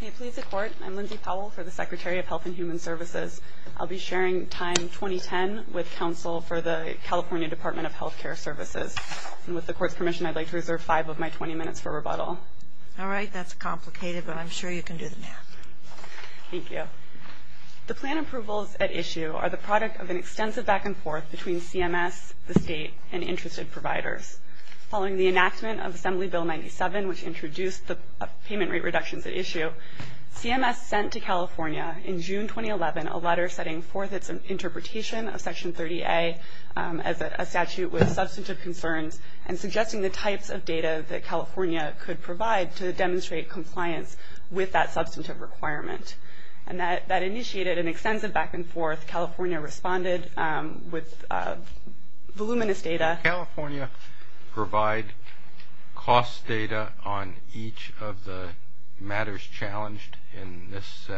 May it please the Court, I'm Lindsay Powell for the Secretary of Health and Human Services. I'll be sharing time 2010 with counsel for the California Department of Health Care Services. And with the Court's permission, I'd like to reserve five of my 20 minutes for rebuttal. All right, that's complicated, but I'm sure you can do the math. Thank you. The plan approvals at issue are the product of an extensive back and forth between CMS, the State, and interested providers. Following the enactment of Assembly Bill 97, which introduced the payment rate reduction at issue, CMS sent to California in June 2011 a letter setting forth its interpretation of Section 30A as a statute with substantive concerns and suggesting the types of data that California could provide to demonstrate compliance with that substantive requirement. And that initiated an extensive back and forth. California responded with voluminous data. Does California provide cost data on each of the matters challenged in this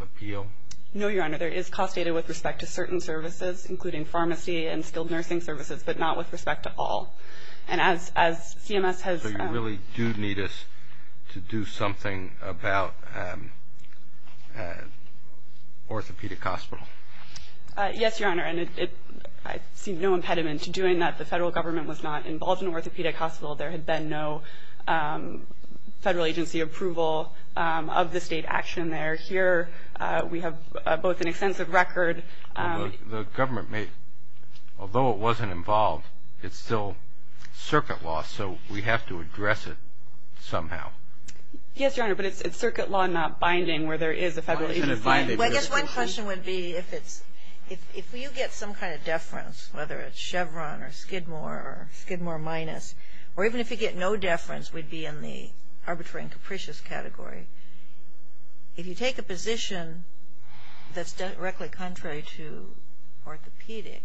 appeal? No, Your Honor, there is cost data with respect to certain services, including pharmacy and skilled nursing services, but not with respect to all. So you really do need us to do something about orthopedic hospitals? Yes, Your Honor, and I see no impediment to doing that. The federal government was not involved in orthopedic hospitals. There had been no federal agency approval of the state action there. Here we have both an extensive record. The government may, although it wasn't involved, it's still circuit law, so we have to address it somehow. Yes, Your Honor, but it's circuit law not binding where there is a federal agency. I guess one question would be if you get some kind of deference, whether it's Chevron or Skidmore or Skidmore minus, or even if you get no deference, we'd be in the arbitrary and capricious category. If you take a position that's directly contrary to orthopedic,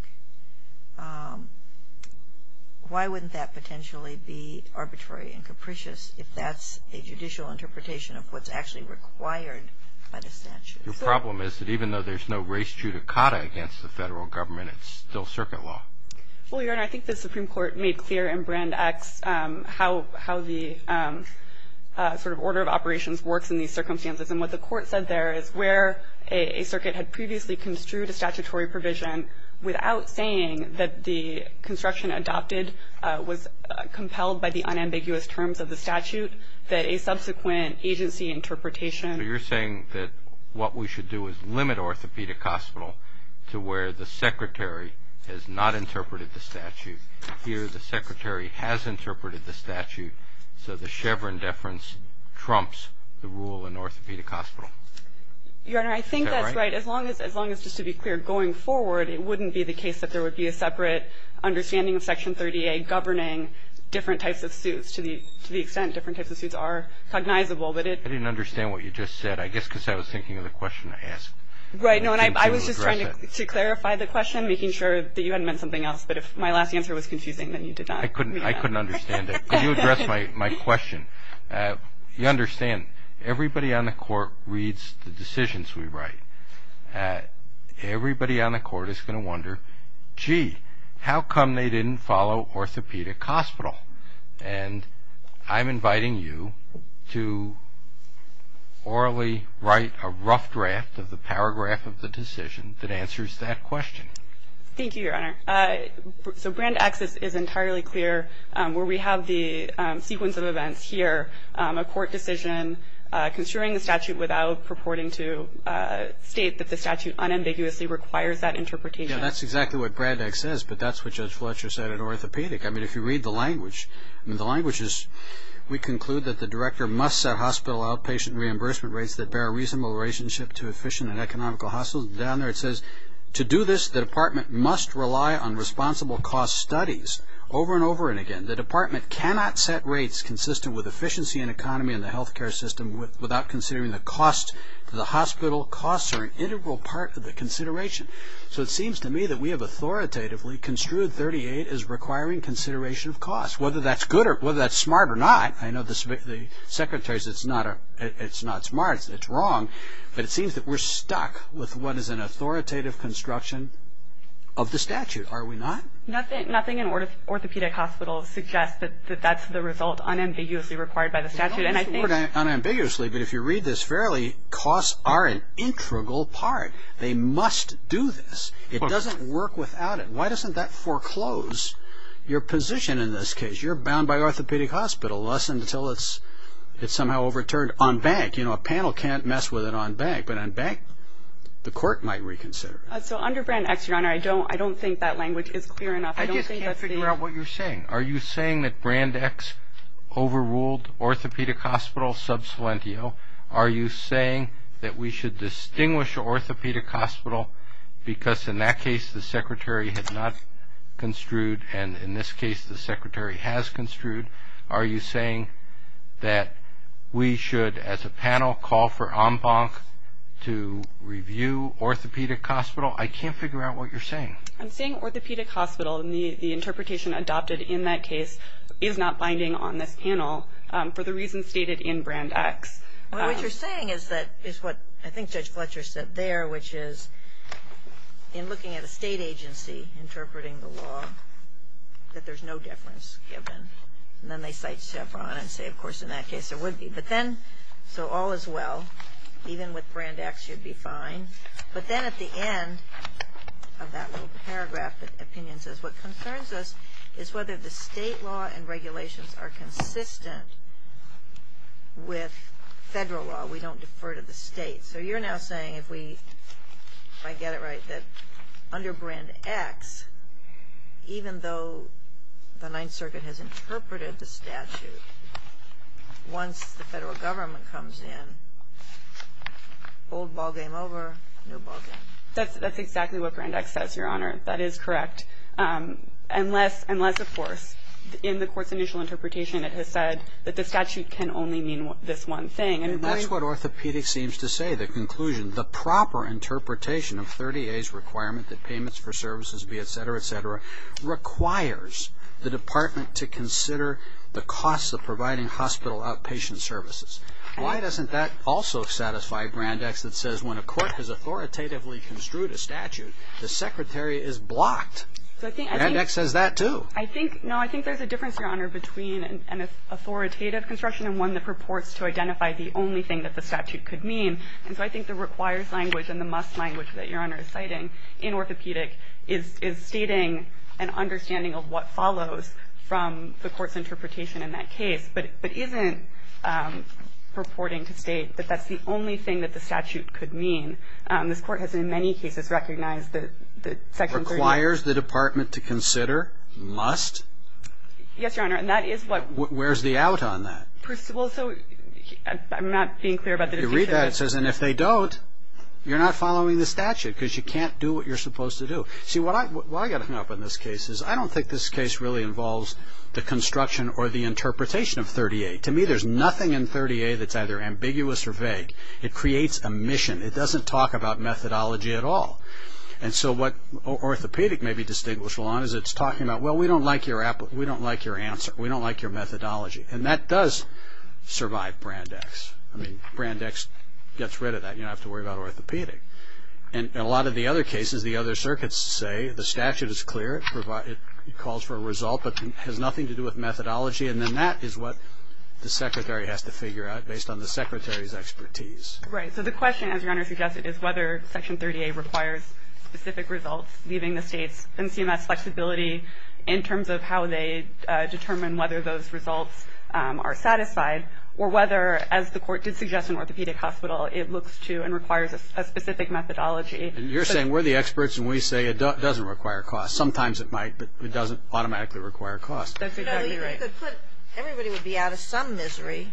why wouldn't that potentially be arbitrary and capricious if that's a judicial interpretation of what's actually required by the statute? The problem is that even though there's no race judicata against the federal government, it's still circuit law. Well, Your Honor, I think the Supreme Court made clear in Brand X how the sort of order of operations works in these circumstances, and what the court said there is where a circuit had previously construed a statutory provision without saying that the construction adopted was compelled by the unambiguous terms of the statute, that a subsequent agency interpretation. So you're saying that what we should do is limit orthopedic hospital to where the secretary has not interpreted the statute. Here the secretary has interpreted the statute, so the Chevron deference trumps the rule in orthopedic hospital. Your Honor, I think that's right. As long as, just to be clear, going forward, it wouldn't be the case that there would be a separate understanding of Section 38 governing different types of suits to the extent different types of suits are cognizable. I didn't understand what you just said, I guess because I was thinking of the question I asked. Right, no, and I was just trying to clarify the question, making sure that you hadn't meant something else, but if my last answer was confusing, then you did that. I couldn't understand it. Could you address my question? You understand, everybody on the Court reads the decisions we write. Everybody on the Court is going to wonder, gee, how come they didn't follow orthopedic hospital? And I'm inviting you to orally write a rough draft of the paragraph of the decision that answers that question. Thank you, Your Honor. So, Brand X is entirely clear where we have the sequence of events here, a court decision, considering the statute without purporting to state that the statute unambiguously requires that interpretation. Yeah, that's exactly what Brand X says, but that's what Judge Fletcher said at orthopedic. I mean, if you read the language, the language is, we conclude that the director must set hospital outpatient reimbursement rates that bear a reasonable relationship to efficient and economical hospitals. Down there it says, to do this, the department must rely on responsible cost studies. Over and over and again, the department cannot set rates consistent with efficiency and economy in the healthcare system without considering the cost to the hospital. Costs are an integral part of the consideration. So, it seems to me that we have authoritatively construed 38 as requiring consideration of costs, whether that's good or whether that's smart or not. I know the Secretary says it's not smart, it's wrong, but it seems that we're stuck with what is an authoritative construction of the statute. Are we not? Nothing in orthopedic hospitals suggests that that's the result unambiguously required by the statute. Unambiguously, but if you read this fairly, costs are an integral part. They must do this. It doesn't work without it. Why doesn't that foreclose your position in this case? You're bound by orthopedic hospital unless and until it's somehow overturned on bank. You know, a panel can't mess with it on bank, but on bank, the court might reconsider it. So, under Brand X, Your Honor, I don't think that language is clear enough. I just can't figure out what you're saying. Are you saying that Brand X overruled orthopedic hospital sub salientio? Are you saying that we should distinguish orthopedic hospital because, in that case, the Secretary had not construed and, in this case, the Secretary has construed? Are you saying that we should, as a panel, call for en banc to review orthopedic hospital? I can't figure out what you're saying. I'm saying orthopedic hospital, and the interpretation adopted in that case, is not binding on this panel for the reasons stated in Brand X. What you're saying is what I think Judge Fletcher said there, which is, in looking at a state agency interpreting the law, that there's no deference given. And then they cite Chevron and say, of course, in that case, there would be. But then, so all is well. Even with Brand X, you'd be fine. But then, at the end of that little paragraph, the opinion says, what concerns us is whether the state law and regulations are consistent with federal law. We don't defer to the state. So you're now saying, if I get it right, that under Brand X, even though the Ninth Circuit has interpreted the statute, once the federal government comes in, old ballgame over, new ballgame. That's exactly what Brand X says, Your Honor. That is correct. Unless, of course, in the court's initial interpretation, it has said that the statute can only mean this one thing. And that's what orthopedics seems to say, the conclusion. The proper interpretation of 30A's requirement that payments for services be et cetera, et cetera, requires the department to consider the costs of providing hospital outpatient services. Why doesn't that also satisfy Brand X that says when a court has authoritatively construed a statute, the secretary is blocked? Brand X says that, too. There's a difference between an authoritative construction and one that purports to identify the only thing that the statute could mean. And so I think the requires language and the must language that Your Honor is citing in orthopedic is stating an understanding of what follows from the court's interpretation in that case, but isn't purporting to state that that's the only thing that the statute could mean. This court has, in many cases, recognized that Section 30A- Requires the department to consider? Must? Yes, Your Honor, and that is what- Where's the out on that? Well, so I'm not being clear about the- If you read that, it says, and if they don't, you're not following the statute because you can't do what you're supposed to do. See, why I got hung up on this case is I don't think this case really involves the construction or the interpretation of 30A. To me, there's nothing in 30A that's either ambiguous or vague. It creates a mission. It doesn't talk about methodology at all. And so what orthopedic may be distinguished along is it's talking about, well, we don't like your answer. We don't like your methodology. And that does survive Brandex. I mean, Brandex gets rid of that. You don't have to worry about orthopedic. And a lot of the other cases, the other circuits say the statute is clear. It calls for a result but has nothing to do with methodology, and then that is what the secretary has to figure out based on the secretary's expertise. Right. So the question, as Your Honor suggested, is whether Section 30A requires specific results, giving the state some CMS flexibility in terms of how they determine whether those results are satisfied, or whether, as the court did suggest in orthopedic hospital, it looks to and requires a specific methodology. You're saying we're the experts and we say it doesn't require a cost. Sometimes it might, but it doesn't automatically require a cost. That's exactly right. Everybody would be out of some misery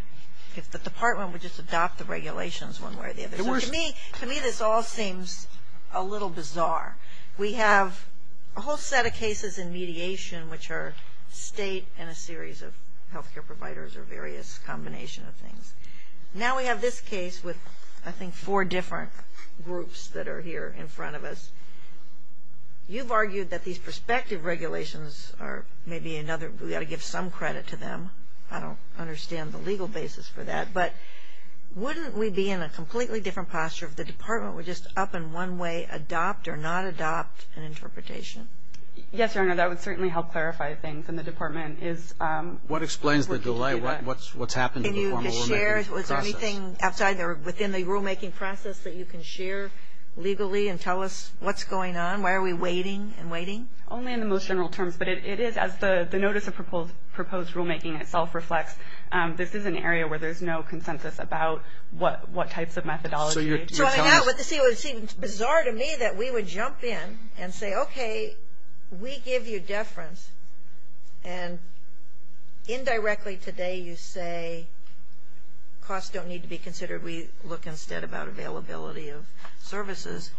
if the department would just adopt the regulations one way or the other. To me, this all seems a little bizarre. We have a whole set of cases in mediation which are state and a series of health care providers or various combinations of things. Now we have this case with, I think, four different groups that are here in front of us. You've argued that these prospective regulations are maybe another, we ought to give some credit to them. I don't understand the legal basis for that. But wouldn't we be in a completely different posture if the department would just, up in one way, adopt or not adopt an interpretation? Yes, Your Honor, that would certainly help clarify things. And the department is... What explains the delay? What's happened to the formal rulemaking process? Was there anything outside or within the rulemaking process that you can share legally and tell us what's going on? Why are we waiting and waiting? Only in the most general terms, but it is, as the notice of proposed rulemaking itself reflects, this is an area where there's no consensus about what types of methodology. So I have what seems bizarre to me that we would jump in and say, okay, we give you deference, and indirectly today you say costs don't need to be considered. We look instead about availability of services.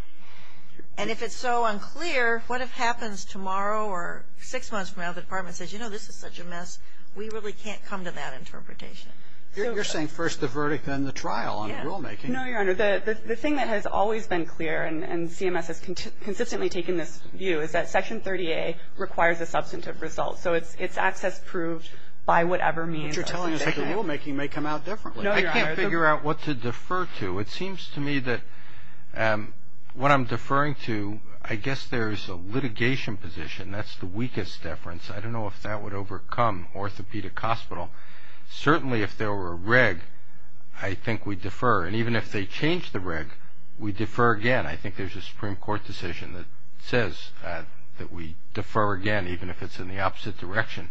And if it's so unclear, what if it happens tomorrow or six months from now, and the department says, you know, this is such a mess, we really can't come to that interpretation. You're saying first the verdict, then the trial on rulemaking. No, Your Honor, the thing that has always been clear, and CMS has consistently taken this view, is that Section 30A requires a substantive result. So it's access proved by whatever means. But you're telling us that the rulemaking may come out differently. I can't figure out what to defer to. It seems to me that what I'm deferring to, I guess there's a litigation position. And that's the weakest deference. I don't know if that would overcome orthopedic hospital. Certainly if there were a reg, I think we'd defer. And even if they change the reg, we'd defer again. I think there's a Supreme Court decision that says that we defer again, even if it's in the opposite direction.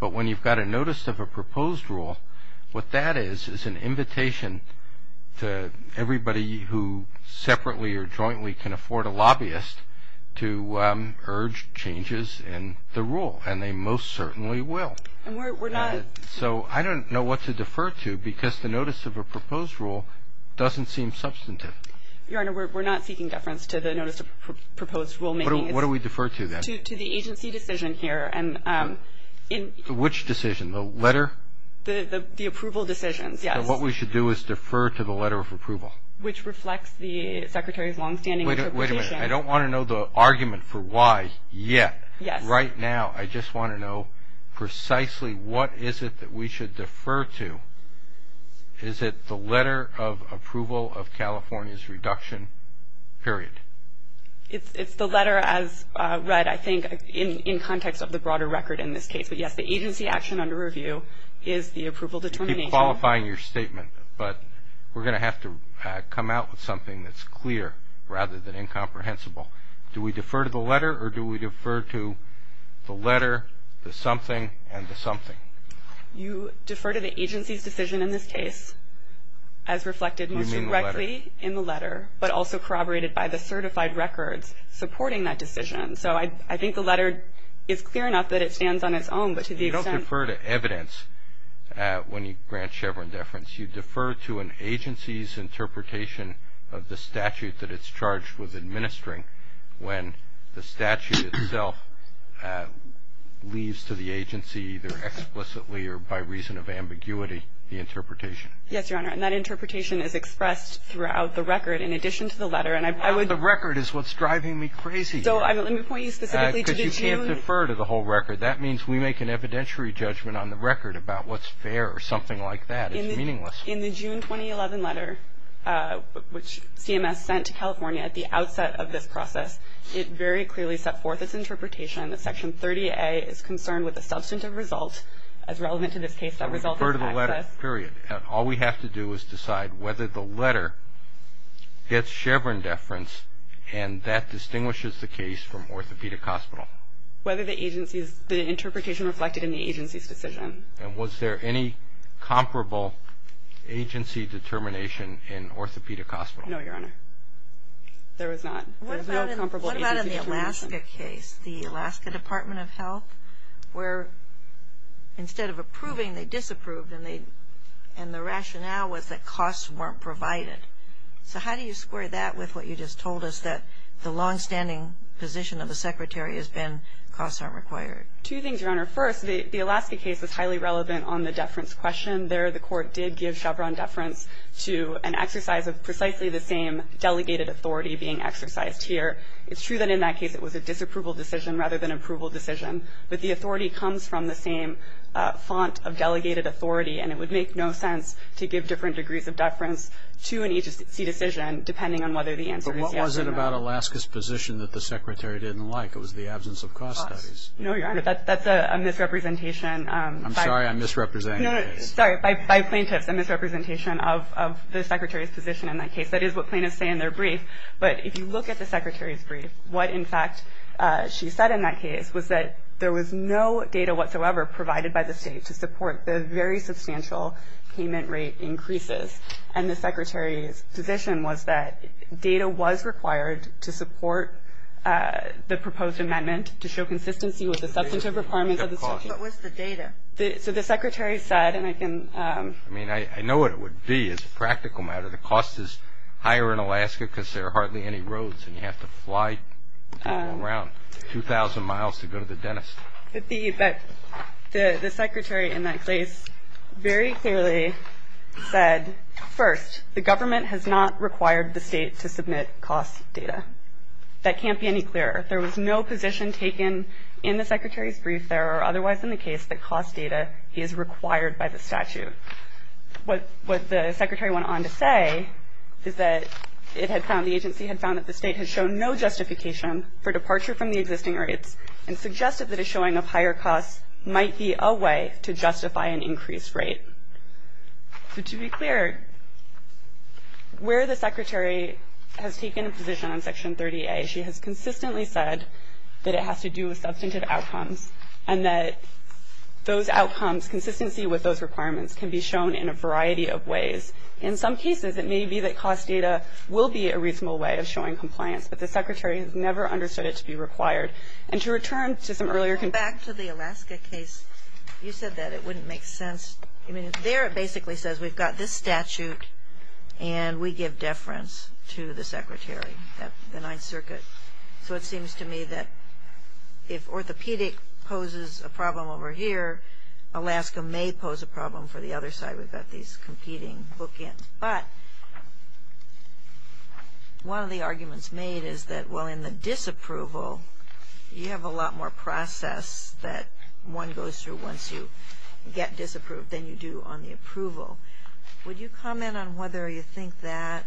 But when you've got a notice of a proposed rule, what that is, is an invitation to everybody who separately or jointly can afford a lobbyist to urge changes in the rule. And they most certainly will. So I don't know what to defer to because the notice of a proposed rule doesn't seem substantive. Your Honor, we're not seeking deference to the notice of proposed rulemaking. What do we defer to then? Which decision? The letter? The approval decision, yes. So what we should do is defer to the letter of approval. Which reflects the Secretary's longstanding interpretation. Wait a minute. I don't want to know the argument for why yet. Right now I just want to know precisely what is it that we should defer to. Is it the letter of approval of California's reduction period? It's the letter as read, I think, in context of the broader record in this case. But, yes, the agency action under review is the approval determination. Keep qualifying your statement. But we're going to have to come out with something that's clear rather than incomprehensible. Do we defer to the letter or do we defer to the letter, the something, and the something? You defer to the agency's decision in this case as reflected most directly in the letter, but also corroborated by the certified records supporting that decision. So I think the letter is clear enough that it stands on its own. You don't defer to evidence when you grant Chevron deference. You defer to an agency's interpretation of the statute that it's charged with administering when the statute itself leaves to the agency either explicitly or by reason of ambiguity the interpretation. Yes, Your Honor, and that interpretation is expressed throughout the record in addition to the letter. The record is what's driving me crazy. So I'm going to point you specifically to June. Because you can't defer to the whole record. That means we make an evidentiary judgment on the record about what's fair or something like that. It's meaningless. In the June 2011 letter, which CMS sent to California at the outset of this process, it very clearly set forth its interpretation that Section 30A is confirmed with a substantive result, as relevant to this case, that results in silence. We defer to the letter, period. All we have to do is decide whether the letter gets Chevron deference, and that distinguishes the case from orthopedic hospital. Whether the interpretation reflected in the agency's decision. And was there any comparable agency determination in orthopedic hospital? No, Your Honor. There was not. What about in the Alaska case, the Alaska Department of Health, where instead of approving, they disapproved, and the rationale was that costs weren't provided. So how do you square that with what you just told us, that the longstanding position of the Secretary has been costs aren't required? Choosing, Your Honor, first, the Alaska case was highly relevant on the deference question. There the court did give Chevron deference to an exercise of precisely the same delegated authority being exercised here. It's true that in that case it was a disapproval decision, rather than approval decision. But the authority comes from the same font of delegated authority, and it would make no sense to give different degrees of deference to an agency decision, depending on whether the answer is yes or no. But what was it about Alaska's position that the Secretary didn't like? It was the absence of cost studies. No, Your Honor, that's a misrepresentation. I'm sorry, I'm misrepresenting. Sorry, by plaintiff, the misrepresentation of the Secretary's position in that case. That is what plaintiffs say in their brief. But if you look at the Secretary's brief, what, in fact, she said in that case was that there was no data whatsoever provided by the state to support the very substantial payment rate increases. And the Secretary's position was that data was required to support the proposed amendment to show consistency with the substantive requirements of the statute. What was the data? So the Secretary said, and I can – I mean, I know what it would be as a practical matter. The cost is higher in Alaska because there are hardly any roads and you have to fly around 2,000 miles to go to the dentist. The Secretary in that case very clearly said, first, the government has not required the state to submit cost data. That can't be any clearer. There was no position taken in the Secretary's brief there or otherwise in the case that cost data is required by the statute. What the Secretary went on to say is that it had found – the agency had found that the state had shown no justification for departure from the existing rates and suggested that a showing of higher costs might be a way to justify an increased rate. So to be clear, where the Secretary has taken a position on Section 30A, she has consistently said that it has to do with substantive outcomes and that those outcomes, consistency with those requirements, can be shown in a variety of ways. In some cases, it may be that cost data will be a reasonable way of showing compliance, but the Secretary has never understood it to be required. And to return to some earlier – Back to the Alaska case, you said that it wouldn't make sense. I mean, there it basically says we've got this statute and we give deference to the Secretary. That's the Ninth Circuit. So it seems to me that if orthopedic poses a problem over here, Alaska may pose a problem for the other side. We've got these competing bookends. But one of the arguments made is that, well, in the disapproval, you have a lot more process that one goes through once you get disapproved than you do on the approval. Will you comment on whether you think that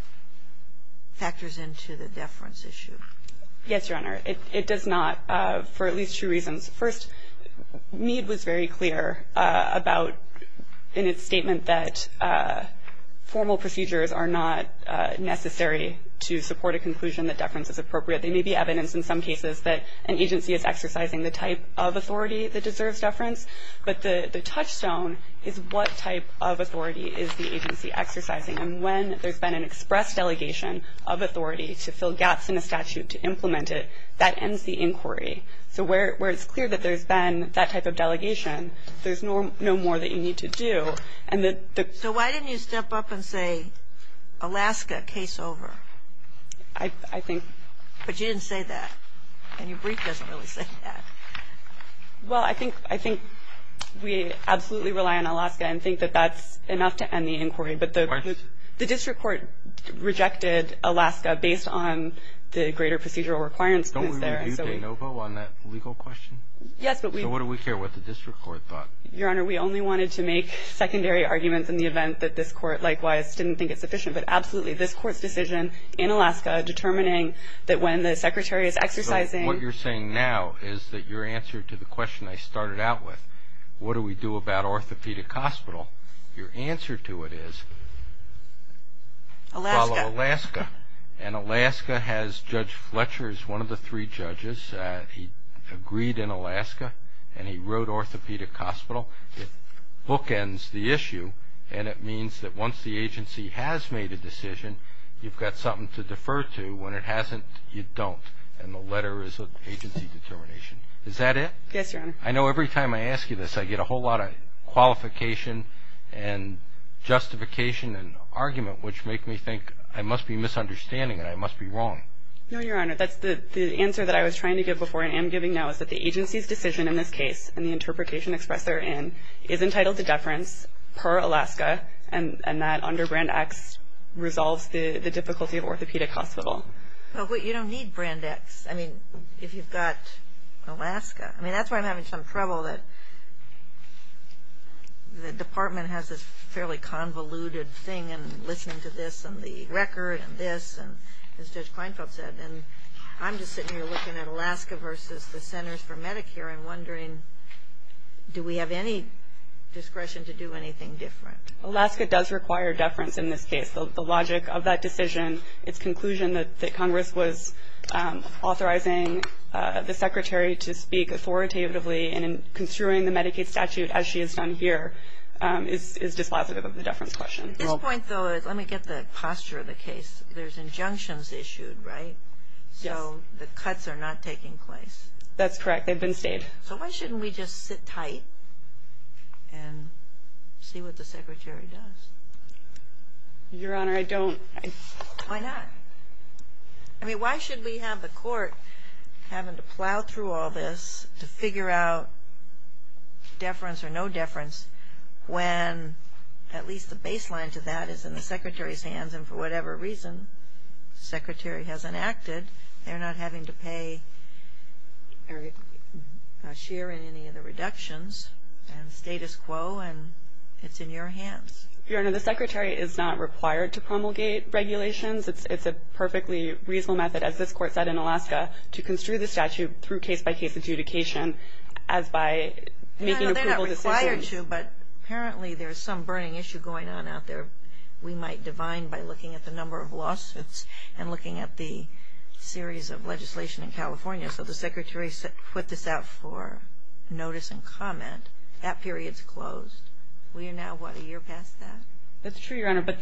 factors into the deference issue? Yes, Your Honor. It does not for at least two reasons. First, Meade was very clear about in his statement that formal procedures are not necessary to support a conclusion that deference is appropriate. There may be evidence in some cases that an agency is exercising the type of authority that deserves deference, but the touchstone is what type of authority is the agency exercising. And when there's been an express delegation of authority to fill gaps in the statute to implement it, that ends the inquiry. So where it's clear that there's been that type of delegation, there's no more that you need to do. So why didn't you step up and say, Alaska, case over? I think – But you didn't say that. And your brief doesn't really say that. Well, I think we absolutely rely on Alaska and think that that's enough to end the inquiry. But the district court rejected Alaska based on the greater procedural requirements put there. Don't we review de novo on that legal question? Yes, but we – So what do we care what the district court thought? Your Honor, we only wanted to make secondary arguments in the event that this court, likewise, didn't think it sufficient. But absolutely, this court's decision in Alaska determining that when the secretary is exercising – Your answer to the question I started out with, what do we do about orthopedic hospital, your answer to it is follow Alaska. And Alaska has Judge Fletcher as one of the three judges. He agreed in Alaska, and he wrote orthopedic hospital. It bookends the issue, and it means that once the agency has made a decision, you've got something to defer to. When it hasn't, you don't. And the letter is of agency determination. Is that it? Yes, Your Honor. I know every time I ask you this, I get a whole lot of qualification and justification and argument, which make me think I must be misunderstanding it. I must be wrong. No, Your Honor. The answer that I was trying to give before and am giving now is that the agency's decision in this case, and the interpretation expressed therein, is entitled to deference per Alaska, and that under Brand X resolves the difficulty of orthopedic hospital. But you don't need Brand X, I mean, if you've got Alaska. I mean, that's where I'm having some trouble, that the department has this fairly convoluted thing, and listen to this and the record and this, and it's just blindfolded. And I'm just sitting here looking at Alaska versus the Centers for Medicare and wondering, do we have any discretion to do anything different? Alaska does require deference in this case. The logic of that decision, its conclusion that Congress was authorizing the Secretary to speak authoritatively and in construing the Medicaid statute as she has done here, is dispositive of the deference question. Let me get the posture of the case. There's injunctions issued, right? So the cuts are not taking place. That's correct. They've been stayed. So why shouldn't we just sit tight and see what the Secretary does? Your Honor, I don't. Why not? I mean, why should we have the court having to plow through all this to figure out deference or no deference when at least the baseline to that is in the Secretary's hands and for whatever reason the Secretary hasn't acted. They're not having to pay a share in any of the reductions and status quo, and it's in your hands. Your Honor, the Secretary is not required to promulgate regulations. It's a perfectly reasonable method, as this Court said in Alaska, to construe the statute through case-by-case adjudication as by using approval decisions. No, they're not required to, but apparently there's some burning issue going on out there where we might divine by looking at the number of lawsuits and looking at the series of legislation in California. So the Secretary put this out for notice and comment. That period's closed. We are now about a year past that. That's true, Your Honor, but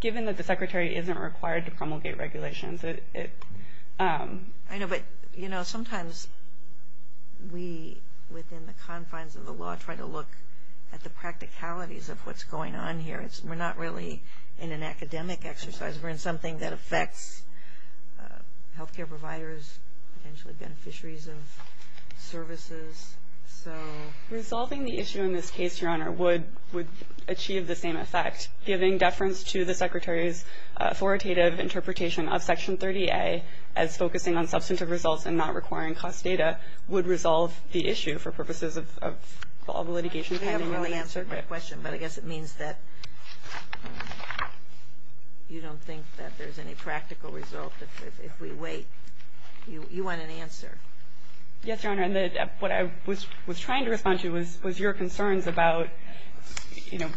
given that the Secretary isn't required to promulgate regulations. I know, but, you know, sometimes we, within the confines of the law, try to look at the practicalities of what's going on here. We're not really in an academic exercise. We're in something that affects health care providers, potentially beneficiaries of services. Resolving the issue in this case, Your Honor, would achieve the same effect. Giving deference to the Secretary's authoritative interpretation of Section 30A as focusing on substantive results and not requiring cost data would resolve the issue for purposes of all the litigation. You haven't really answered my question, but I guess it means that you don't think that there's any practical result. If we wait, you want an answer. Yes, Your Honor, and what I was trying to respond to was your concerns about, you know,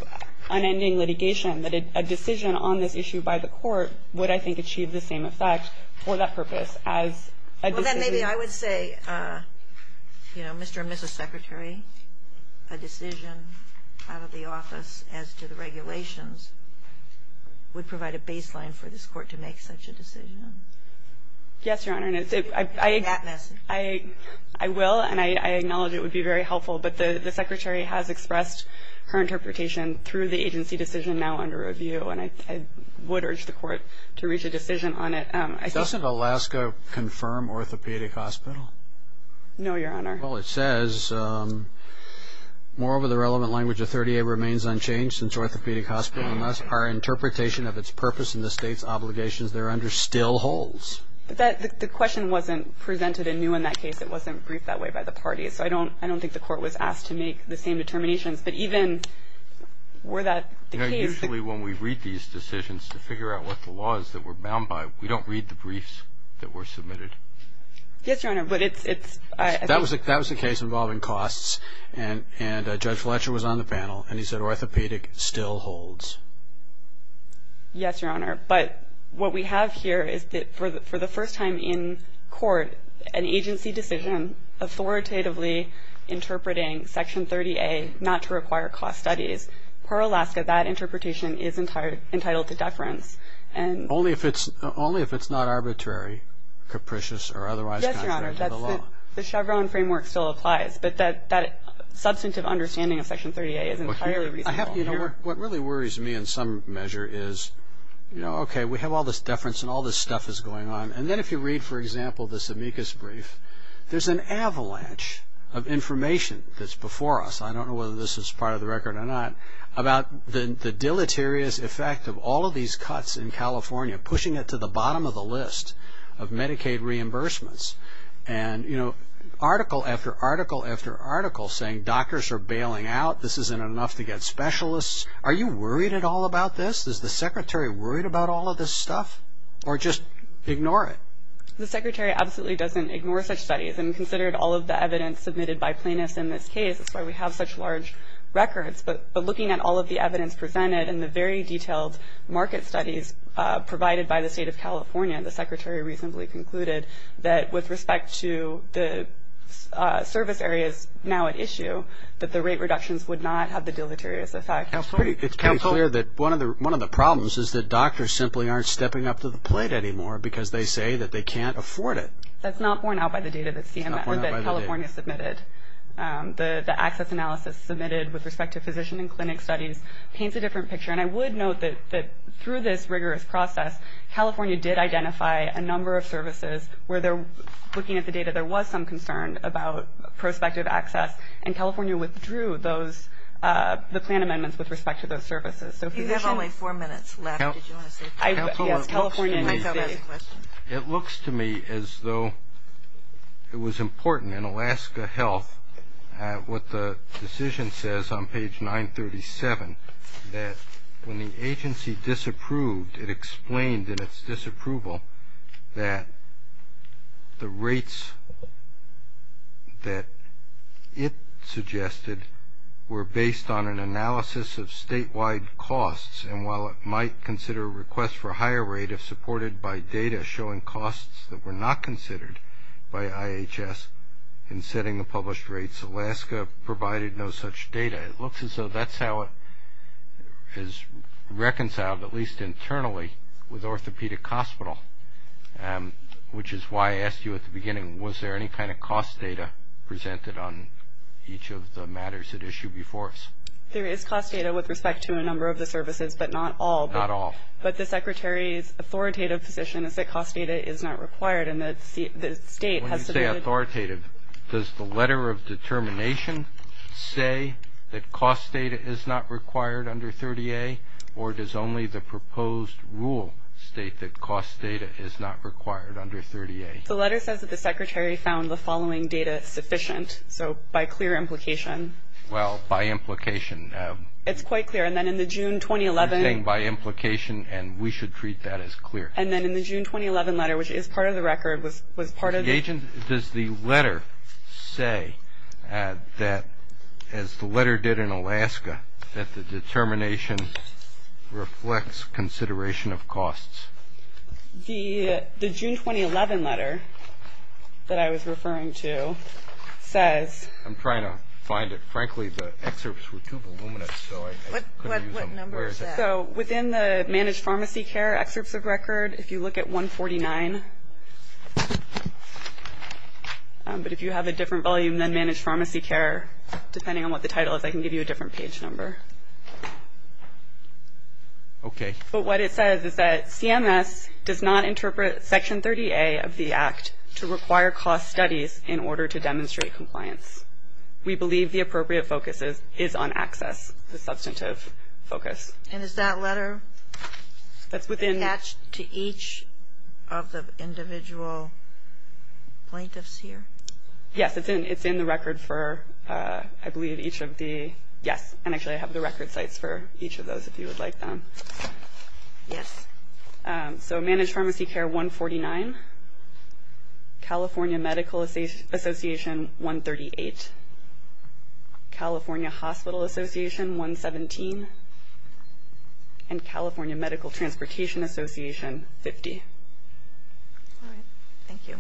unending litigation, that a decision on this issue by the court would, I think, achieve the same effect for that purpose. Well, then maybe I would say, you know, Mr. and Mrs. Secretary, a decision out of the office as to the regulations would provide a baseline for this court to make such a decision. Yes, Your Honor, and I will, and I acknowledge it would be very helpful, but the Secretary has expressed her interpretation through the agency decision now under review, and I would urge the court to reach a decision on it. Doesn't Alaska confirm orthopedic hospital? No, Your Honor. Well, it says, moreover, the relevant language of 30A remains unchanged since orthopedic hospital unless our interpretation of its purpose and the state's obligations there under still holds. The question wasn't presented anew in that case. It wasn't briefed that way by the party, so I don't think the court was asked to make the same determination, but even were that the case? You know, usually when we read these decisions to figure out what the law is that we're bound by, we don't read the briefs that were submitted. Yes, Your Honor, but it's... That was a case involving costs, and Judge Fletcher was on the panel, and he said orthopedic still holds. Yes, Your Honor, but what we have here is that for the first time in court, an agency decision authoritatively interpreting Section 30A not to require cost studies. Per Alaska, that interpretation is entitled to deference. Only if it's not arbitrary, capricious, or otherwise contrary to the law. Yes, Your Honor, the Chevron framework still applies, but that substantive understanding of Section 30A isn't entirely reasonable. What really worries me in some measure is, you know, okay, we have all this deference and all this stuff is going on, and then if you read, for example, this amicus brief, there's an avalanche of information that's before us. I don't know whether this is part of the record or not, about the deleterious effect of all of these cuts in California, pushing it to the bottom of the list of Medicaid reimbursements, and, you know, article after article after article saying doctors are bailing out, this isn't enough to get specialists. Are you worried at all about this? Is the Secretary worried about all of this stuff, or just ignore it? The Secretary absolutely doesn't ignore such studies, and considered all of the evidence submitted by plaintiffs in this case, that's why we have such large records. But looking at all of the evidence presented and the very detailed market studies provided by the State of California, the Secretary reasonably concluded that with respect to the service areas now at issue, that the rate reductions would not have the deleterious effect. It's pretty clear that one of the problems is that doctors simply aren't stepping up to the plate anymore because they say that they can't afford it. That's not borne out by the data that California submitted. The access analysis submitted with respect to physician and clinic studies paints a different picture. And I would note that through this rigorous process, California did identify a number of services where they're looking at the data. There was some concern about prospective access, and California withdrew the plan amendments with respect to those services. You have only four minutes left. It looks to me as though it was important. In Alaska Health, what the decision says on page 937, that when the agency disapproved, it explained in its disapproval that the rates that it suggested were based on an analysis of statewide costs. And while it might consider a request for a higher rate if supported by data showing costs that were not considered by IHS in setting the published rates, Alaska provided no such data. It looks as though that's how it is reconciled, at least internally, with Orthopedic Hospital, which is why I asked you at the beginning, was there any kind of cost data presented on each of the matters at issue before us? There is cost data with respect to a number of the services, but not all. Not all. But the Secretary's authoritative position is that cost data is not required. When you say authoritative, does the letter of determination say that cost data is not required under 30A, or does only the proposed rule state that cost data is not required under 30A? The letter says that the Secretary found the following data sufficient, so by clear implication. Well, by implication. It's quite clear. And then in the June 2011. By implication, and we should treat that as clear. And then in the June 2011 letter, which is part of the record, was part of. Does the letter say that, as the letter did in Alaska, that the determination reflects consideration of costs? The June 2011 letter that I was referring to says. I'm trying to find it. What number is that? So within the managed pharmacy care excerpt of the record, if you look at 149. But if you have a different volume than managed pharmacy care, depending on what the title is, I can give you a different page number. Okay. But what it says is that CMS does not interpret Section 30A of the Act to require cost studies in order to demonstrate compliance. We believe the appropriate focus is on access, the substantive focus. And is that letter attached to each of the individual plaintiffs here? Yes. It's in the record for, I believe, each of the. Yes. And actually, I have the record plate for each of those, if you would like them. Yes. So managed pharmacy care 149, California Medical Association 138, California Hospital Association 117, and California Medical Transportation Association 50. All right. Thank you.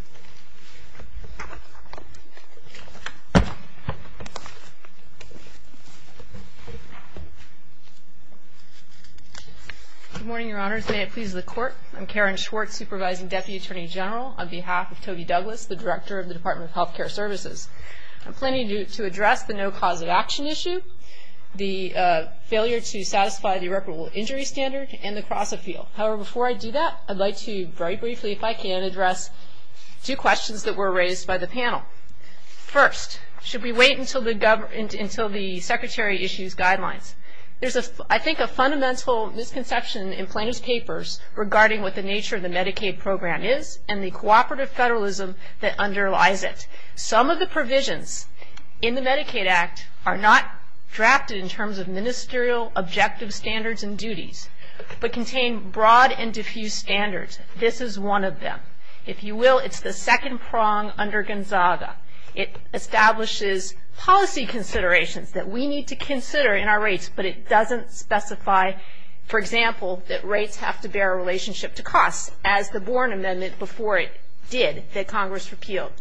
Good morning, Your Honors. May it please the Court. I'm Karen Schwartz, Supervising Deputy Attorney General, on behalf of Toby Douglas, the Director of the Department of Health Care Services. I'm planning to address the no cause of action issue, the failure to satisfy the irreparable injury standard, and the cross-appeal. However, before I do that, I'd like to very briefly, if I can, address two questions that were raised by the panel. First, should we wait until the Secretary issues guidelines? There's, I think, a fundamental misconception in plaintiff's papers regarding what the nature of the Medicaid program is and the cooperative federalism that underlies it. Some of the provisions in the Medicaid Act are not drafted in terms of ministerial objective standards and duties, but contain broad and diffuse standards. This is one of them. If you will, it's the second prong under Gonzaga. It establishes policy considerations that we need to consider in our rates, but it doesn't specify, for example, that rates have to bear a relationship to cost, as the Bourne Amendment before it did, that Congress repealed.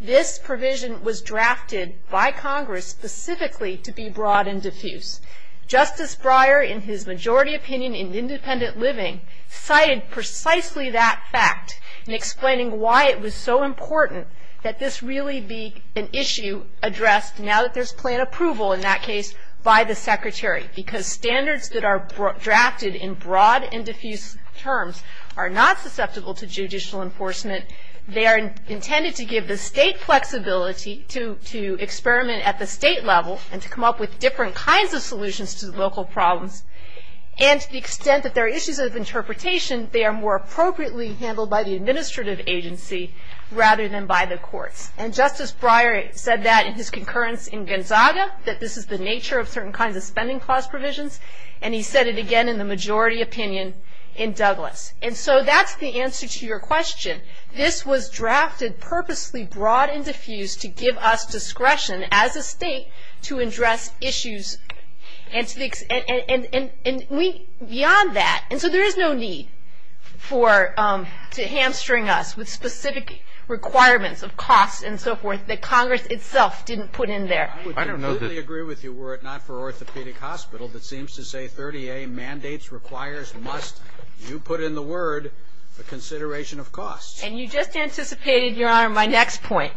This provision was drafted by Congress specifically to be broad and diffuse. Justice Breyer, in his majority opinion in Independent Living, cited precisely that fact in explaining why it was so important that this really be an issue addressed, now that there's plan approval in that case, by the Secretary. Because standards that are drafted in broad and diffuse terms are not susceptible to judicial enforcement. They are intended to give the state flexibility to experiment at the state level and to come up with different kinds of solutions to the local problems. And to the extent that there are issues of interpretation, they are more appropriately handled by the administrative agency rather than by the court. And Justice Breyer said that in his concurrence in Gonzaga, that this is the nature of certain kinds of spending clause provisions, and he said it again in the majority opinion in Douglas. And so that's the answer to your question. This was drafted purposely broad and diffuse to give us discretion as a state to address issues. And beyond that, and so there is no need for hamstring us with specific requirements of costs and so forth, that Congress itself didn't put in there. I completely agree with you were it not for orthopedic hospitals, that seems to say 30A mandates, requires, must. You put in the word the consideration of costs. And you just anticipated, Your Honor, my next point,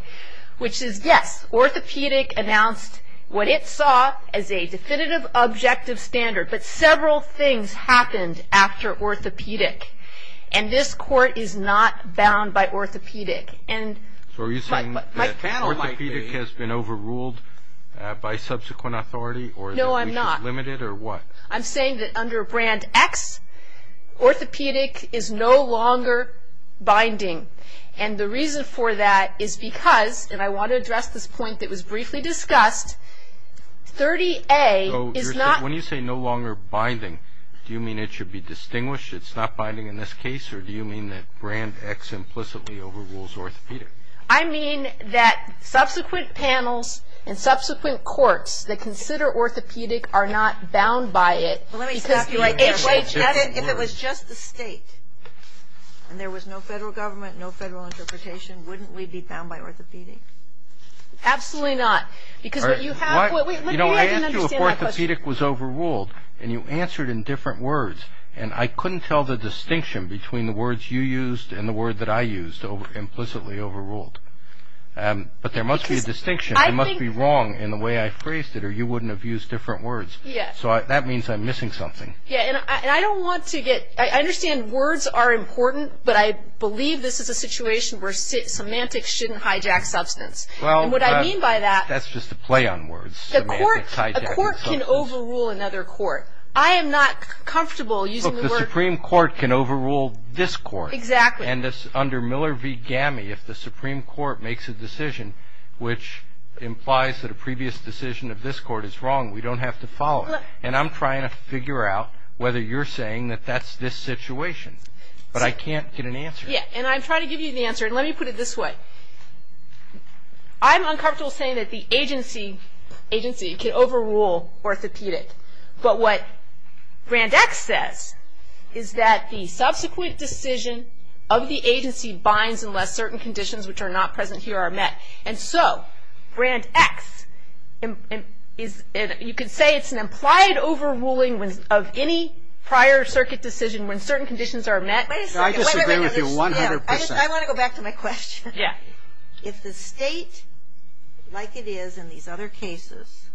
which is yes, orthopedic announced what it saw as a definitive objective standard. But several things happened after orthopedic. And this court is not bound by orthopedic. And my panel might be. So are you saying that orthopedic has been overruled by subsequent authority? No, I'm not. Limited or what? I'm saying that under Brand X, orthopedic is no longer binding. And the reason for that is because, and I want to address this point that was briefly discussed, 30A is not. When you say no longer binding, do you mean it should be distinguished, it's not binding in this case, or do you mean that Brand X implicitly overrules orthopedic? I mean that subsequent panels and subsequent courts that consider orthopedic are not bound by it. If it was just the state and there was no federal government, no federal interpretation, wouldn't we be bound by orthopedic? Absolutely not. You know, I asked you if orthopedic was overruled. And you answered in different words. And I couldn't tell the distinction between the words you used and the word that I used, implicitly overruled. But there must be a distinction. It must be wrong in the way I phrased it or you wouldn't have used different words. So that means I'm missing something. Yeah, and I don't want to get – I understand words are important, but I believe this is a situation where semantics shouldn't hijack substance. And what I mean by that – Well, that's just a play on words, semantics hijacking substance. A court can overrule another court. I am not comfortable using the word – Look, the Supreme Court can overrule this court. Exactly. And under Miller v. GAMI, if the Supreme Court makes a decision which implies that a previous decision of this court is wrong, we don't have to follow it. And I'm trying to figure out whether you're saying that that's this situation. But I can't get an answer. Yeah, and I'm trying to give you an answer. And let me put it this way. I'm uncomfortable saying that the agency can overrule orthopedic. But what Grant X says is that the subsequent decision of the agency binds unless certain conditions which are not present here are met. And so Grant X is – you can say it's an implied overruling of any prior circuit decision when certain conditions are met. I disagree with you 100%. I want to go back to my question. Yeah. If the state, like it is in these other cases,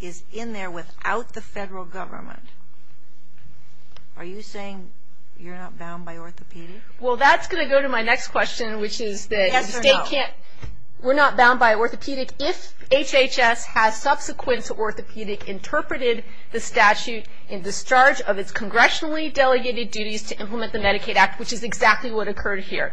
is in there without the federal government, are you saying you're not bound by orthopedic? Well, that's going to go to my next question, which is the state can't – We're not bound by orthopedic if HHS has subsequent to orthopedic interpreted the statute in discharge of its congressionally delegated duties to implement the Medicaid Act, which is exactly what occurred here.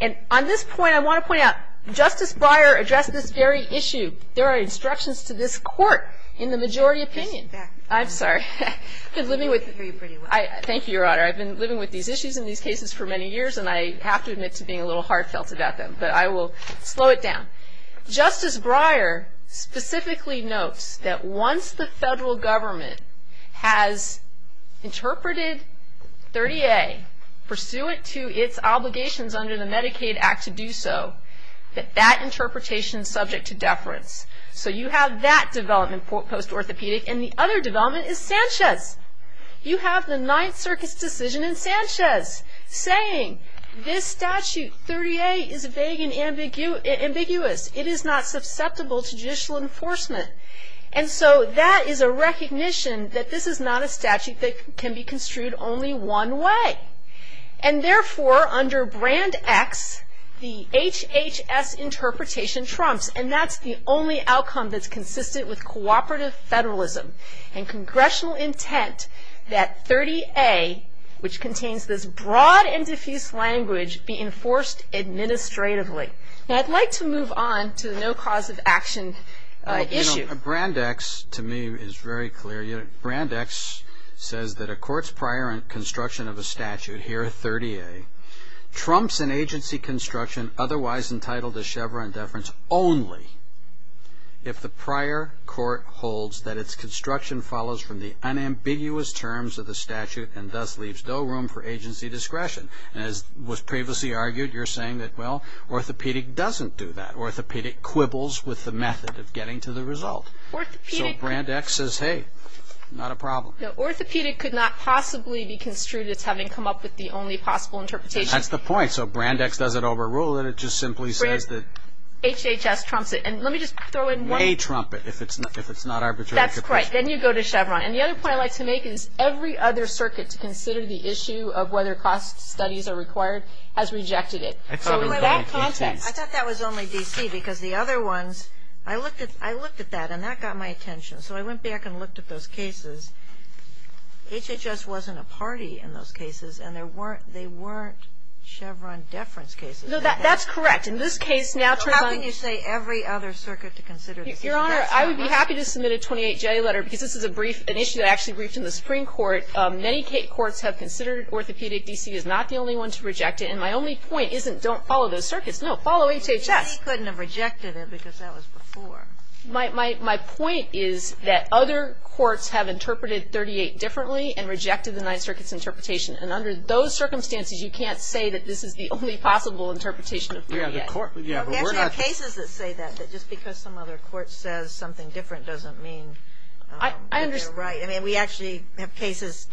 And on this point, I want to point out Justice Breyer addressed this very issue. There are instructions to this court in the majority opinion. I'm sorry. I've been living with – I agree with you pretty much. Thank you, Your Honor. I've been living with these issues in these cases for many years, and I have to admit to being a little hard-self about them. But I will slow it down. Justice Breyer specifically notes that once the federal government has interpreted 30A, pursuant to its obligations under the Medicaid Act to do so, that that interpretation is subject to deference. So you have that development post-orthopedic. And the other development is Sanchez. You have the Ninth Circuit's decision in Sanchez saying this statute, 38, is vague and ambiguous. It is not susceptible to judicial enforcement. And so that is a recognition that this is not a statute that can be construed only one way. And therefore, under Brand X, the HHS interpretation trumps, and that's the only outcome that's consistent with cooperative federalism and congressional intent that 30A, which contains this broad and diffuse language, be enforced administratively. Now, I'd like to move on to the no cause of action issue. You know, Brand X, to me, is very clear. Brand X says that a court's prior construction of a statute here at 30A trumps an agency construction otherwise entitled to Chevron deference only if the prior court holds that its construction follows from the unambiguous terms of the statute and thus leaves no room for agency discretion. And as was previously argued, you're saying that, well, orthopedic doesn't do that. Orthopedic quibbles with the method of getting to the result. So Brand X says, hey, not a problem. Now, orthopedic could not possibly be construed as having come up with the only possible interpretation. That's the point. So Brand X doesn't overrule it. It just simply says that. HHS trumps it. And let me just throw in one. They trump it if it's not arbitrary interpretation. That's right. Then you go to Chevron. And the other point I'd like to make is every other circuit to consider the issue of whether cost studies are required has rejected it. I thought that was only D.C. because the other ones, I looked at that, and that got my attention. So I went back and looked at those cases. HHS wasn't a party in those cases, and they weren't Chevron deference cases. No, that's correct. In this case, naturally. How can you say every other circuit to consider the issue? Your Honor, I would be happy to submit a 28-J letter because this is a brief, an issue that I actually briefed in the Supreme Court. Many courts have considered orthopedic D.C. as not the only one to reject it. And my only point isn't don't follow those circuits. No, follow HHS. But they couldn't have rejected it because that was before. My point is that other courts have interpreted 38 differently and rejected the Ninth Circuit's interpretation. And under those circumstances, you can't say that this is the only possible interpretation. We actually have cases that say that, that just because some other court says something different doesn't mean that they're right. I understand. I mean, we actually have cases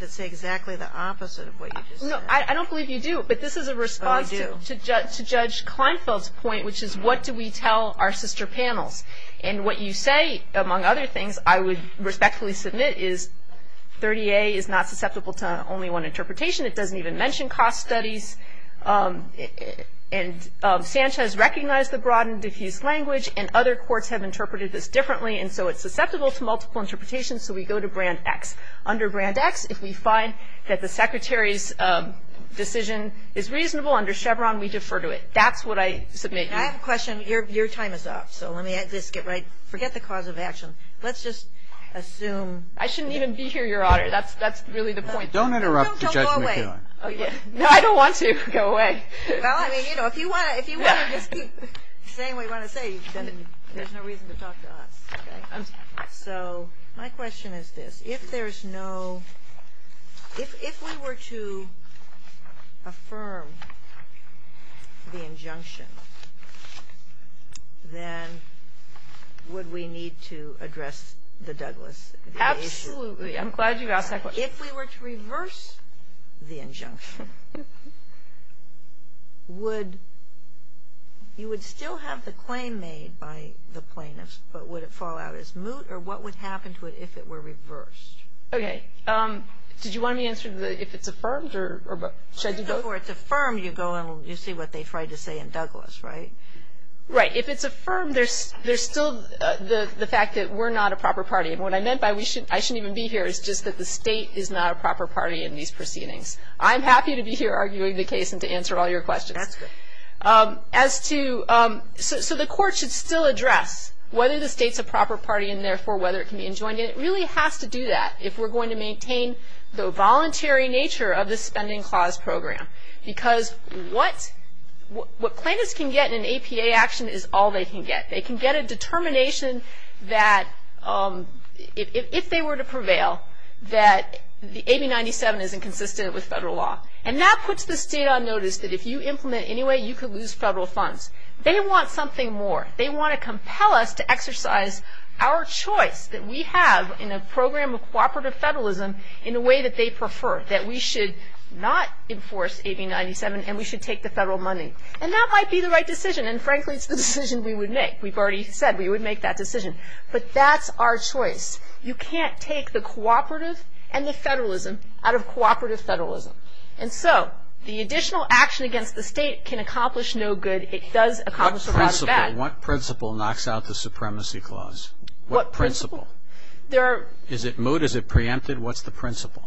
that say exactly the opposite of what you just said. No, I don't believe you do, but this is a response to Judge Kleinfeld's point, which is what do we tell our sister panel? And what you say, among other things, I would respectfully submit is 38 is not susceptible to only one interpretation. It doesn't even mention cost studies. And SAMHSA has recognized the broad and diffuse language, and other courts have interpreted this differently, and so it's susceptible to multiple interpretations, so we go to brand X. Under brand X, if we find that the Secretary's decision is reasonable under Chevron, we defer to it. That's what I submit to you. I have a question. Your time is up, so let me just get right – forget the cause of action. Let's just assume – I shouldn't even be here, Your Honor. That's really the point. Don't interrupt the judgment, Your Honor. No, go away. No, I don't want to go away. Well, I mean, you know, if you want to just keep saying what you want to say, there's no reason to talk to us, okay? So my question is this. If there's no – if we were to affirm the injunction, then would we need to address the Douglass issue? Absolutely. I'm glad you asked that question. If we were to reverse the injunction, would – you would still have the claim made by the plaintiffs, but would it fall out as moot, or what would happen to it if it were reversed? Okay. Did you want me to answer if it's affirmed, or should I do both? Before it's affirmed, you go and you see what they tried to say in Douglass, right? Right. If it's affirmed, there's still the fact that we're not a proper party. What I meant by I shouldn't even be here is just that the state is not a proper party in these proceedings. I'm happy to be here arguing the case and to answer all your questions. As to – so the court should still address whether the state's a proper party and, therefore, whether it can be enjoined. It really has to do that if we're going to maintain the voluntary nature of the spending clause program, because what plaintiffs can get in an APA action is all they can get. They can get a determination that if they were to prevail, that the 8097 isn't consistent with federal law. And that puts the state on notice that if you implement anyway, you could lose federal funds. They want something more. They want to compel us to exercise our choice that we have in a program of cooperative federalism in a way that they prefer, that we should not enforce 8097 and we should take the federal money. And that might be the right decision. And, frankly, it's the decision we would make. We've already said we would make that decision. But that's our choice. You can't take the cooperative and the federalism out of cooperative federalism. And so the additional action against the state can accomplish no good. It does accomplish a rather bad – What principle knocks out the supremacy clause? What principle? There are – Is it moot? Is it preempted? What's the principle?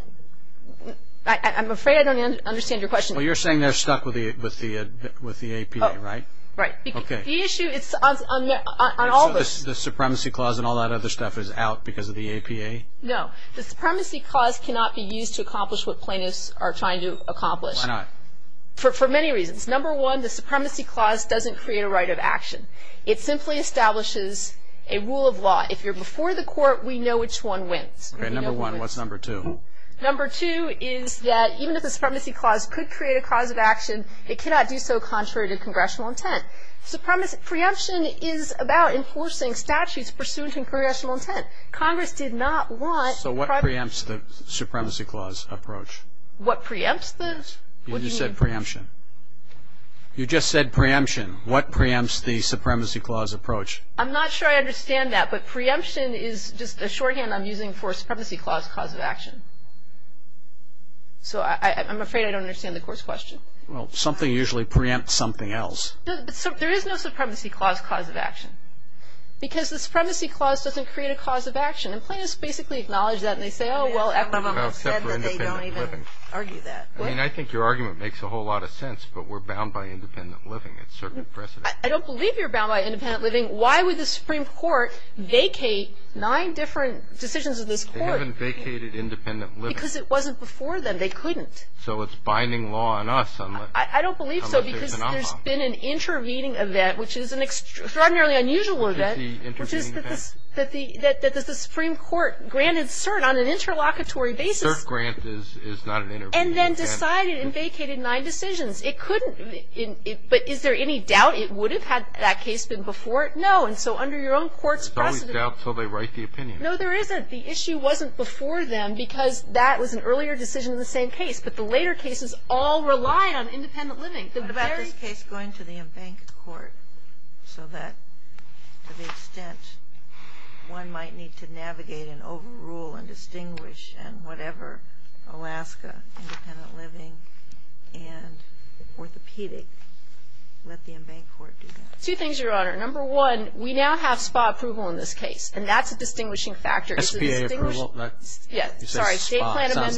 I'm afraid I don't understand your question. Well, you're saying they're stuck with the APA, right? Right. Okay. The issue is – The supremacy clause and all that other stuff is out because of the APA? No. The supremacy clause cannot be used to accomplish what plaintiffs are trying to accomplish. Why not? For many reasons. Number one, the supremacy clause doesn't create a right of action. It simply establishes a rule of law. If you're before the court, we know which one wins. Okay, number one. What's number two? Number two is that even if the supremacy clause could create a cause of action, it cannot do so contrary to congressional intent. Preemption is about enforcing statutes pursuant to congressional intent. Congress did not want – So what preempts the supremacy clause approach? What preempts the – You just said preemption. You just said preemption. What preempts the supremacy clause approach? I'm not sure I understand that. But preemption is just a shorthand I'm using for a supremacy clause cause of action. So I'm afraid I don't understand the court's question. Well, something usually preempts something else. There is no supremacy clause cause of action because the supremacy clause doesn't create a cause of action. And plaintiffs basically acknowledge that and they say, oh, well, I mean, I think your argument makes a whole lot of sense, but we're bound by independent living. I don't believe you're bound by independent living. Why would the Supreme Court vacate nine different decisions of this court? They haven't vacated independent living. Because it wasn't before then. They couldn't. So it's binding law on us. I don't believe so because there's been an intervening event, which is an extraordinarily unusual event. What's the intervening event? That the Supreme Court granted cert on an interlocutory basis. Cert grant is not an intervening event. And then decided and vacated nine decisions. It couldn't. But is there any doubt it would have had that case before? No. And so under your own courts. There's always doubt until they write the opinion. No, there isn't. The issue wasn't before then because that was an earlier decision in the same case. But the later cases all rely on independent living. The very case going to the embanked court so that to the extent one might need to navigate and overrule and distinguish and whatever, Alaska, independent living, and orthopedic, let the embanked court do that. Two things, Your Honor. Number one, we now have SPA approval in this case. And that's a distinguishing factor. SPA approval? Yes. Sorry. State plan amendments.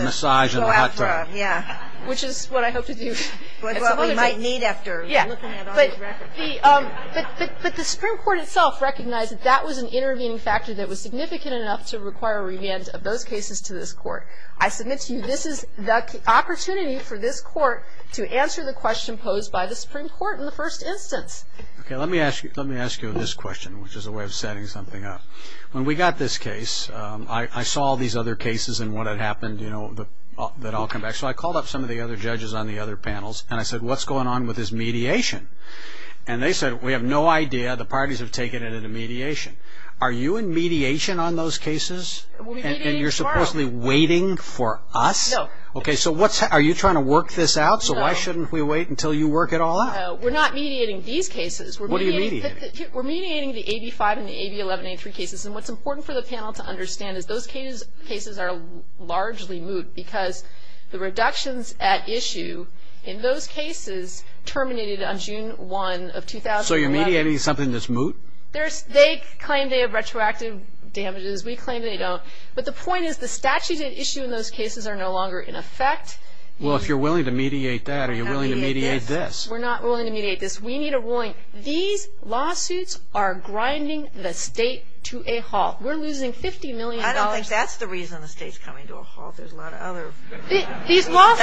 Massage and hot tub. Yeah. Which is what I hope to do. Which is what we might need after looking at all these records. But the Supreme Court itself recognized that that was an intervening factor that was significant enough to require revenge of both cases to this court. I submit to you this is the opportunity for this court to answer the question posed by the Supreme Court in the first instance. Okay. Let me ask you this question, which is a way of setting something up. When we got this case, I saw these other cases and what had happened, you know, that I'll come back. So I called up some of the other judges on the other panels, and I said, What's going on with this mediation? And they said, We have no idea. The parties have taken it into mediation. Are you in mediation on those cases? And you're supposedly waiting for us? No. Okay. So are you trying to work this out? So why shouldn't we wait until you work it all out? No. We're not mediating these cases. What are you mediating? We're mediating the 85 and the 8011 entry cases. And what's important for the panel to understand is those cases are largely moot because the reductions at issue in those cases terminated on June 1 of 2011. So you're mediating something that's moot? They claim they have retroactive damages. We claim they don't. But the point is the statute at issue in those cases are no longer in effect. Well, if you're willing to mediate that, are you willing to mediate this? We're not willing to mediate this. We need a warrant. These lawsuits are grinding the state to a halt. We're losing $50 million. I don't think that's the reason the state's coming to a halt. There's a lot of other reasons. Nor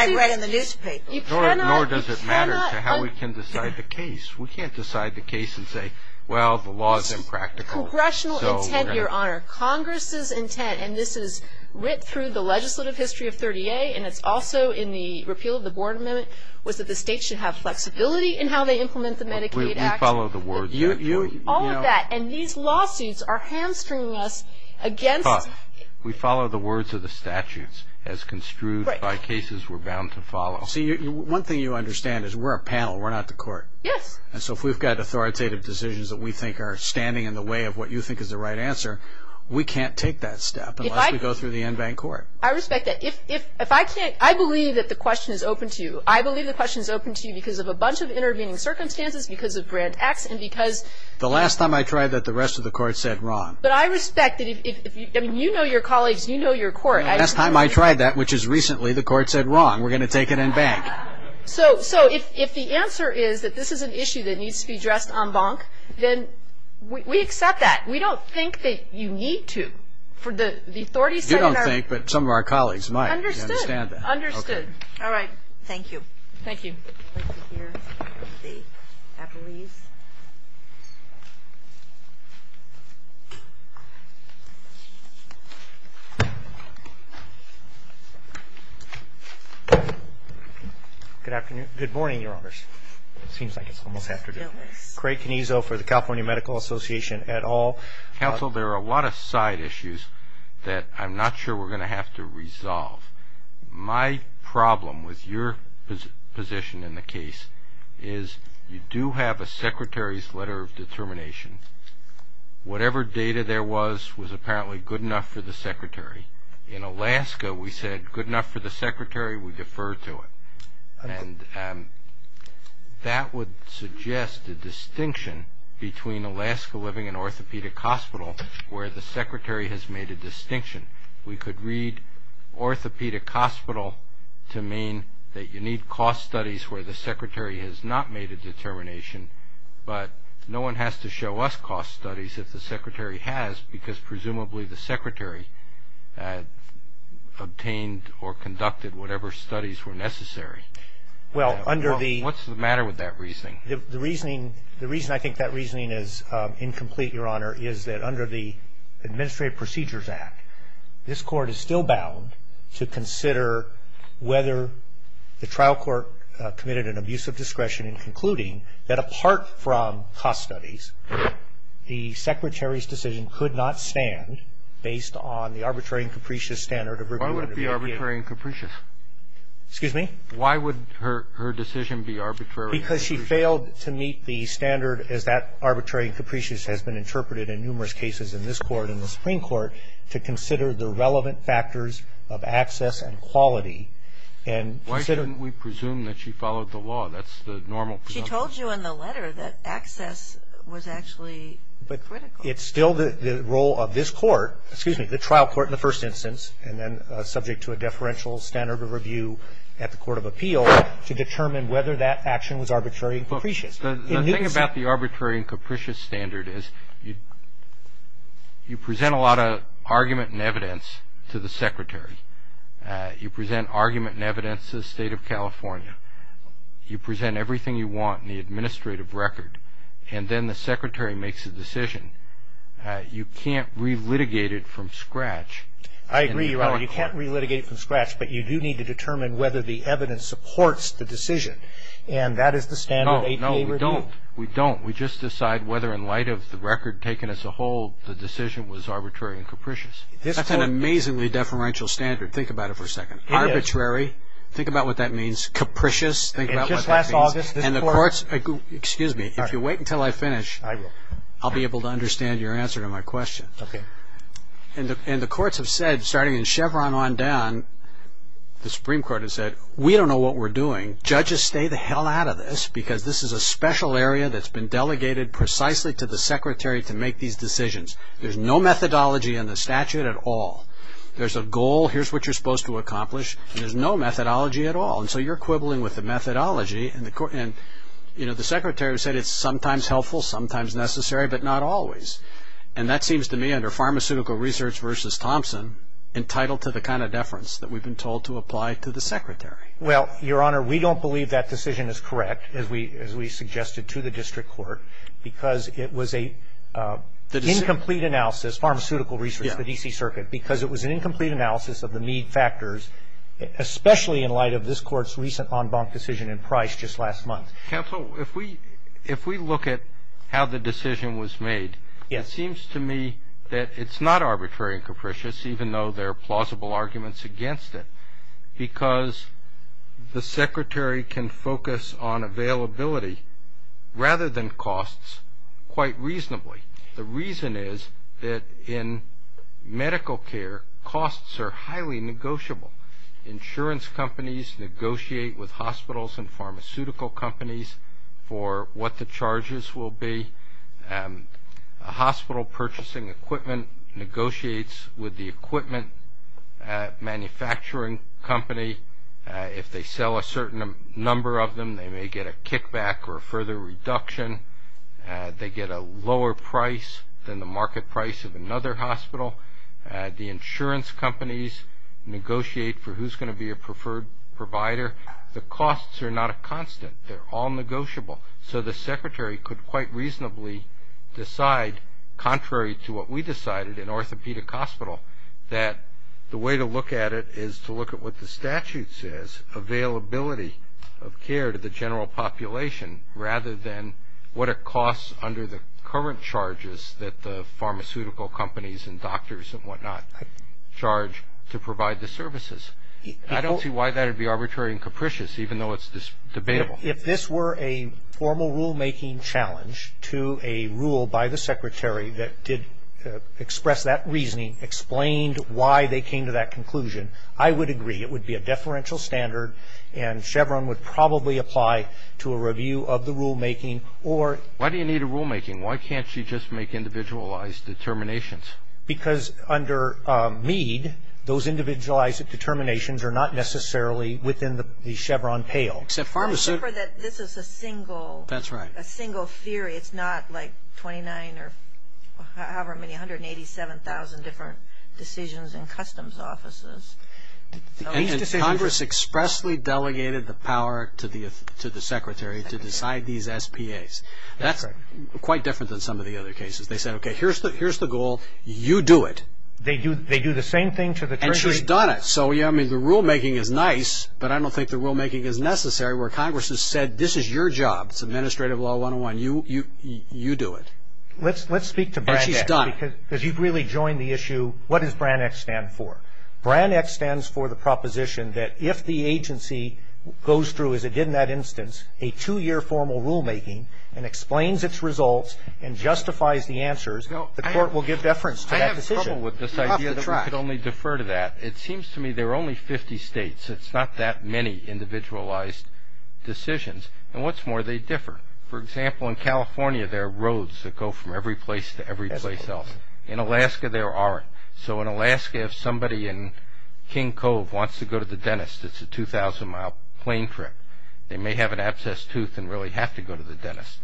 does it matter to how we can decide the case. We can't decide the case and say, well, the law's impractical. Congressional intent, Your Honor. Congress's intent, and this is ripped through the legislative history of 30A, and it's also in the repeal of the Board of Minutes, was that the state should have flexibility in how they implement the Medicaid Act. We follow the words of the statute. All of that. And these lawsuits are hamstringing us again. It's tough. We follow the words of the statutes as construed by cases we're bound to follow. See, one thing you understand is we're a panel. We're not the court. Yes. And so if we've got authoritative decisions that we think are standing in the way of what you think is the right answer, we can't take that step unless we go through the en banc court. I respect that. I believe that the question is open to you. I believe the question is open to you because of a bunch of intervening circumstances, because of grand acts, and because the last time I tried that, the rest of the court said wrong. But I respect that if you know your colleagues, you know your court. Last time I tried that, which is recently, the court said wrong. We're going to take it en banc. So if the answer is that this is an issue that needs to be addressed en banc, then we accept that. We don't think that you need to. You don't think, but some of our colleagues might. Understood. Understood. All right. Thank you. Thank you. Let's sit here and be happy with you. Good afternoon. Good morning, Your Honors. It seems like it's almost afternoon. Craig Canizo for the California Medical Association et al. Counsel, there are a lot of side issues that I'm not sure we're going to have to resolve. My problem with your position in the case is you do have a secretary's letter of determination. Whatever data there was, was apparently good enough for the secretary. In Alaska, we said good enough for the secretary, we defer to it. And that would suggest a distinction between Alaska living in orthopedic hospital, where the secretary has made a distinction. We could read orthopedic hospital to mean that you need cost studies where the secretary has not made a determination, but no one has to show us cost studies that the secretary has because presumably the secretary obtained or conducted whatever studies were necessary. What's the matter with that reasoning? The reason I think that reasoning is incomplete, Your Honor, is that under the Administrative Procedures Act, this court is still bound to consider whether the trial court committed an abuse of discretion in concluding that apart from cost studies, the secretary's decision could not stand based on the arbitrary and capricious standard of review. Why would it be arbitrary and capricious? Why would her decision be arbitrary and capricious? Because she failed to meet the standard as that arbitrary and capricious has been interpreted in numerous cases in this court and the Supreme Court to consider the relevant factors of access and quality. Why didn't we presume that she followed the law? That's the normal presumption. She told you in the letter that access was actually critical. But it's still the role of this court, excuse me, the trial court in the first instance, and then subject to a deferential standard of review at the Court of Appeals to determine whether that action was arbitrary and capricious. The thing about the arbitrary and capricious standard is you present a lot of argument and evidence to the secretary. You present argument and evidence to the State of California. You present everything you want in the administrative record. And then the secretary makes a decision. You can't re-litigate it from scratch. I agree, Your Honor. You can't re-litigate it from scratch, but you do need to determine whether the evidence supports the decision. And that is the standard APA review. No, no, we don't. We just decide whether in light of the record taken as a whole, the decision was arbitrary and capricious. That's an amazingly deferential standard. Think about it for a second. It is. Arbitrary, think about what that means. Capricious, think about what that means. And just last August this court. And the courts, excuse me, if you wait until I finish, I'll be able to understand your answer to my question. Okay. And the courts have said, starting in Chevron on down, the Supreme Court has said, we don't know what we're doing. Judges, stay the hell out of this because this is a special area that's been delegated precisely to the secretary to make these decisions. There's no methodology in the statute at all. There's a goal, here's what you're supposed to accomplish, and there's no methodology at all. And so you're quibbling with the methodology. And, you know, the secretary said it's sometimes helpful, sometimes necessary, but not always. And that seems to me, under pharmaceutical research versus Thompson, entitled to the kind of deference that we've been told to apply to the secretary. Well, Your Honor, we don't believe that decision is correct, as we suggested to the district court, because it was an incomplete analysis, pharmaceutical research, the D.C. Circuit, because it was an incomplete analysis of the need factors, especially in light of this court's recent en banc decision in Price just last month. Counsel, if we look at how the decision was made, it seems to me that it's not arbitrary and capricious, even though there are plausible arguments against it, because the secretary can focus on availability rather than costs quite reasonably. The reason is that in medical care, costs are highly negotiable. Insurance companies negotiate with hospitals and pharmaceutical companies for what the charges will be. A hospital purchasing equipment negotiates with the equipment manufacturing company. If they sell a certain number of them, they may get a kickback or a further reduction. They get a lower price than the market price of another hospital. The insurance companies negotiate for who's going to be a preferred provider. The costs are not a constant. They're all negotiable. So the secretary could quite reasonably decide, contrary to what we decided in Orthopedic Hospital, that the way to look at it is to look at what the statute says, availability of care to the general population, rather than what are costs under the current charges that the pharmaceutical companies and doctors and whatnot charge to provide the services. I don't see why that would be arbitrary and capricious, even though it's debatable. If this were a formal rulemaking challenge to a rule by the secretary that did express that reasoning, explained why they came to that conclusion, I would agree. It would be a deferential standard, and Chevron would probably apply to a review of the rulemaking. Why do you need a rulemaking? Why can't you just make individualized determinations? Because under Mead, those individualized determinations are not necessarily within the Chevron pale. Except pharmacy. This is a single theory. It's not like 29 or however many, 187,000 different decisions in customs offices. Congress expressly delegated the power to the secretary to decide these SPAs. That's quite different than some of the other cases. They said, okay, here's the goal. You do it. They do the same thing to the treasury? And she's done it. So, yeah, I mean, the rulemaking is nice, but I don't think the rulemaking is necessary where Congress has said, this is your job. It's administrative law 101. You do it. Let's speak to Brand X. She's done it. Because you've really joined the issue, what does Brand X stand for? Brand X stands for the proposition that if the agency goes through, as it did in that instance, a two-year formal rulemaking and explains its results and justifies the answers, the court will give deference to that decision. I have trouble with this idea that we could only defer to that. It seems to me there are only 50 states. It's not that many individualized decisions. And what's more, they differ. For example, in California, there are roads that go from every place to every place else. In Alaska, there aren't. So in Alaska, if somebody in King Cove wants to go to the dentist, it's a 2,000-mile plane trip. They may have an abscessed tooth and really have to go to the dentist.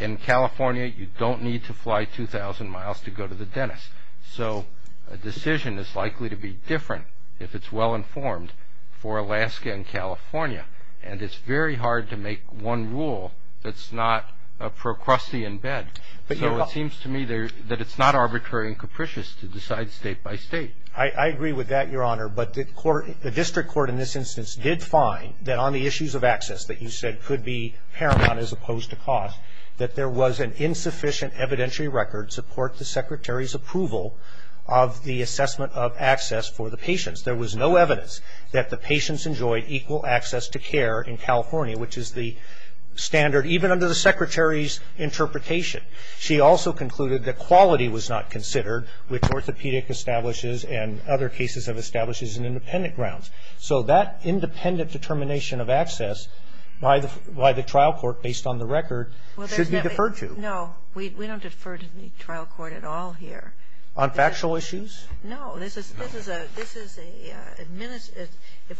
In California, you don't need to fly 2,000 miles to go to the dentist. So a decision is likely to be different if it's well-informed for Alaska and California. And it's very hard to make one rule that's not a procrustean bet. So it seems to me that it's not arbitrary and capricious to decide state by state. I agree with that, Your Honor. But the district court in this instance did find that on the issues of access that you said could be paramount that there was an insufficient evidentiary record to support the secretary's approval of the assessment of access for the patients. There was no evidence that the patients enjoyed equal access to care in California, which is the standard even under the secretary's interpretation. She also concluded that quality was not considered, which orthopedic establishes and other cases have established as an independent ground. So that independent determination of access by the trial court based on the record should be deferred to. No, we don't defer to the trial court at all here. On factual issues? No. If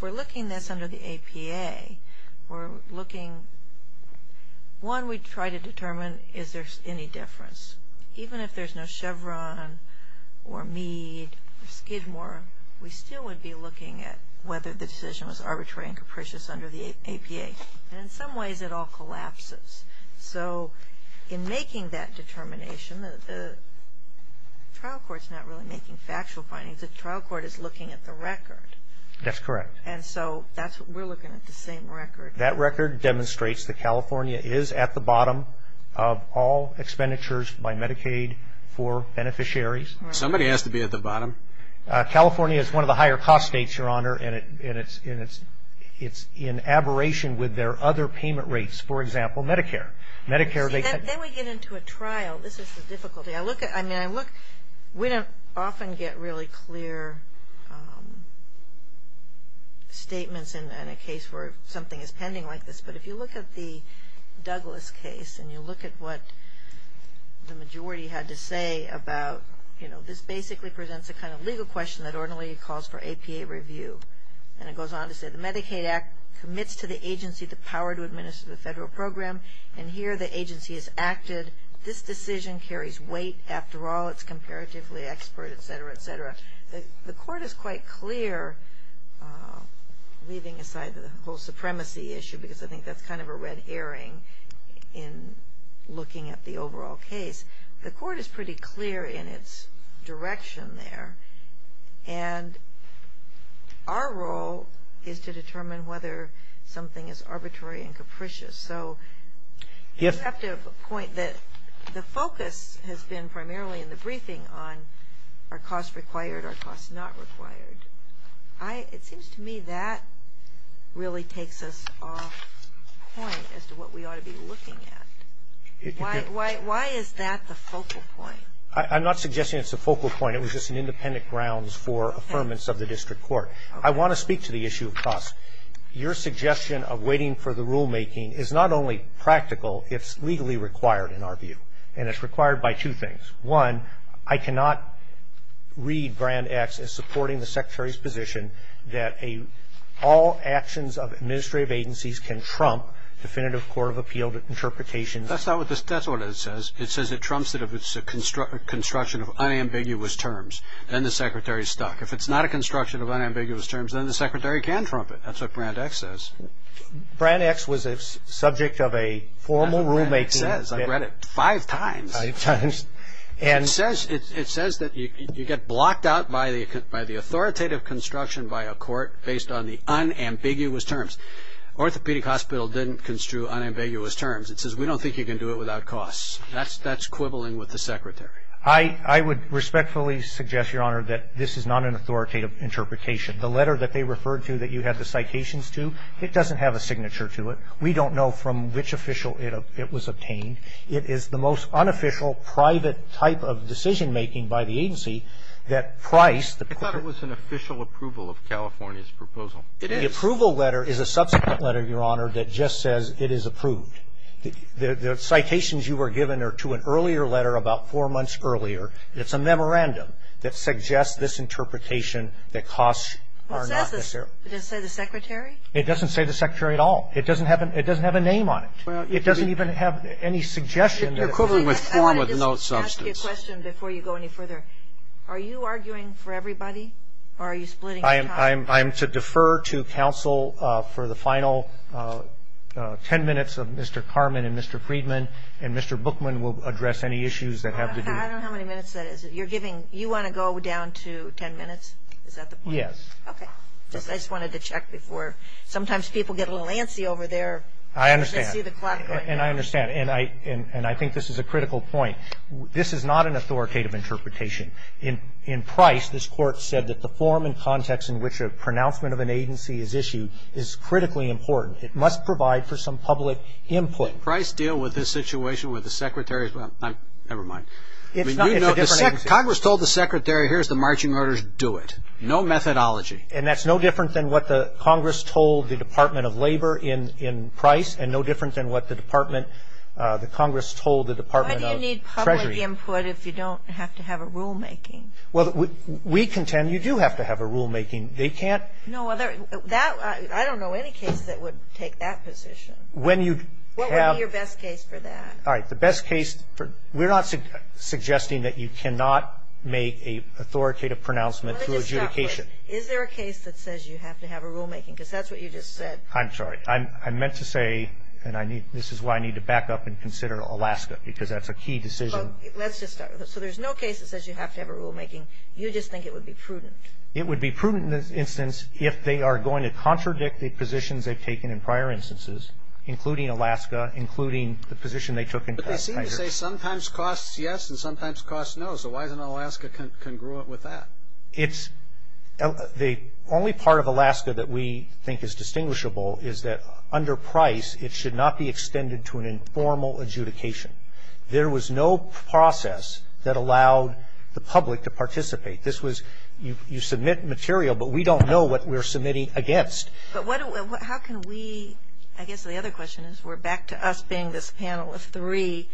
we're looking at this under the APA, we're looking. One, we try to determine is there any difference. Even if there's no Chevron or Meade, Skidmore, we still would be looking at whether the decision was arbitrary and capricious under the APA. And in some ways it all collapses. So in making that determination, the trial court's not really making factual findings. The trial court is looking at the record. That's correct. And so we're looking at the same record. That record demonstrates that California is at the bottom of all expenditures by Medicaid for beneficiaries. Somebody has to be at the bottom. California is one of the higher cost states, Your Honor, and it's in aberration with their other payment rates. For example, Medicare. Then we get into a trial. This is the difficulty. We don't often get really clear statements in a case where something is pending like this, but if you look at the Douglas case and you look at what the majority had to say about, you know, this basically presents a kind of legal question that ordinarily calls for APA review. And it goes on to say the Medicaid Act commits to the agency the power to administer the federal program, and here the agency has acted. This decision carries weight. After all, it's comparatively expert, et cetera, et cetera. The court is quite clear, leaving aside the whole supremacy issue, because I think that's kind of a red herring in looking at the overall case. The court is pretty clear in its direction there. And our role is to determine whether something is arbitrary and capricious. So you have to point that the focus has been primarily in the briefing on are costs required, are costs not required. It seems to me that really takes us off point as to what we ought to be looking at. Why is that the focal point? I'm not suggesting it's the focal point. It was just an independent grounds for affirmance of the district court. I want to speak to the issue of cost. Your suggestion of waiting for the rulemaking is not only practical, it's legally required in our view. And it's required by two things. One, I cannot read Brand X as supporting the secretary's position that all actions of administrative agencies can trump definitive court of appeal interpretation. That's what it says. It says it trumps it if it's a construction of unambiguous terms. Then the secretary is stuck. If it's not a construction of unambiguous terms, then the secretary can trump it. That's what Brand X says. Brand X was a subject of a formal rulemaking. I read it five times. It says that you get blocked out by the authoritative construction by a court based on the unambiguous terms. Orthopedic Hospital didn't construe unambiguous terms. It says we don't think you can do it without costs. That's quibbling with the secretary. I would respectfully suggest, Your Honor, that this is not an authoritative interpretation. The letter that they referred to that you have the citations to, it doesn't have a signature to it. We don't know from which official it was obtained. It is the most unofficial private type of decision-making by the agency that price the court. I thought it was an official approval of California's proposal. It is. The approval letter is a subsequent letter, Your Honor, that just says it is approved. The citations you were given are to an earlier letter about four months earlier. It's a memorandum that suggests this interpretation that costs are not necessary. Does it say the secretary? It doesn't say the secretary at all. It doesn't have a name on it. It doesn't even have any suggestion. It's equivalent to a form of no substance. Let me ask you a question before you go any further. Are you arguing for everybody or are you splitting the time? I am to defer to counsel for the final ten minutes of Mr. Carman and Mr. Friedman, and Mr. Bookman will address any issues that have to do with it. I don't know how many minutes that is. You want to go down to ten minutes? Is that the point? Yes. Okay. I just wanted to check before. Sometimes people get a little antsy over there. I understand. And I understand. And I think this is a critical point. This is not an authoritative interpretation. In Price, this court said that the form and context in which a pronouncement of an agency is issued is critically important. It must provide for some public input. Did Price deal with this situation with the secretary? Never mind. Congress told the secretary, here's the marching orders, do it. No methodology. And that's no different than what Congress told the Department of Labor in Price and no different than what the Congress told the Department of Treasury. You need public input if you don't have to have a rulemaking. Well, we contend you do have to have a rulemaking. They can't. I don't know any case that would take that position. What would be your best case for that? All right. The best case, we're not suggesting that you cannot make an authoritative pronouncement through adjudication. Is there a case that says you have to have a rulemaking? Because that's what you just said. I'm sorry. I meant to say, and this is why I need to back up and consider Alaska because that's a key decision. Let's just start with this. So there's no case that says you have to have a rulemaking. You just think it would be prudent. It would be prudent in this instance if they are going to contradict the positions they've taken in prior instances, including Alaska, including the position they took in Price. But they seem to say sometimes costs yes and sometimes costs no. So why doesn't Alaska congruent with that? The only part of Alaska that we think is distinguishable is that under Price, it should not be extended to an informal adjudication. There was no process that allowed the public to participate. You submit material, but we don't know what we're submitting against. But how can we, I guess the other question is we're back to us being this panel of three,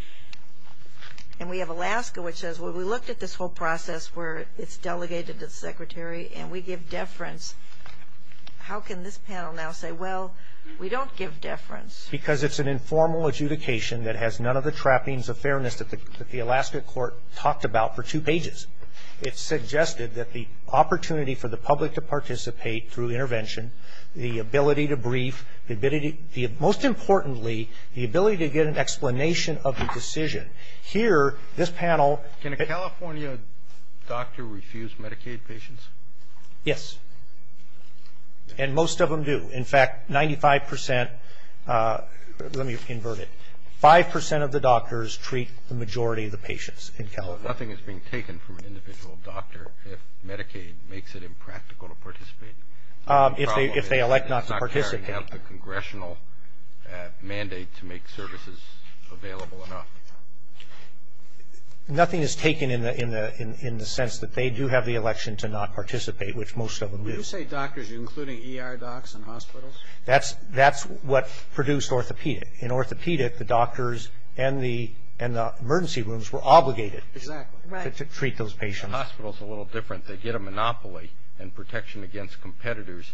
and we have Alaska which says, well, we looked at this whole process where it's delegated to the secretary and we give deference. How can this panel now say, well, we don't give deference? Because it's an informal adjudication that has none of the trappings of fairness that the Alaska court talked about for two pages. It suggested that the opportunity for the public to participate through intervention, the ability to brief, most importantly, the ability to get an explanation of the decision. Here, this panel. Can a California doctor refuse Medicaid patients? Yes. And most of them do. In fact, 95 percent, let me invert it. Five percent of the doctors treat the majority of the patients in California. So nothing is being taken from an individual doctor if Medicaid makes it impractical to participate? If they elect not to participate. Congressional mandate to make services available enough. Nothing is taken in the sense that they do have the election to not participate, which most of them do. When you say doctors, you're including ER docs and hospitals? That's what produced orthopedic. In orthopedic, the doctors and the emergency rooms were obligated to treat those patients. In hospitals, it's a little different. They get a monopoly and protection against competitors.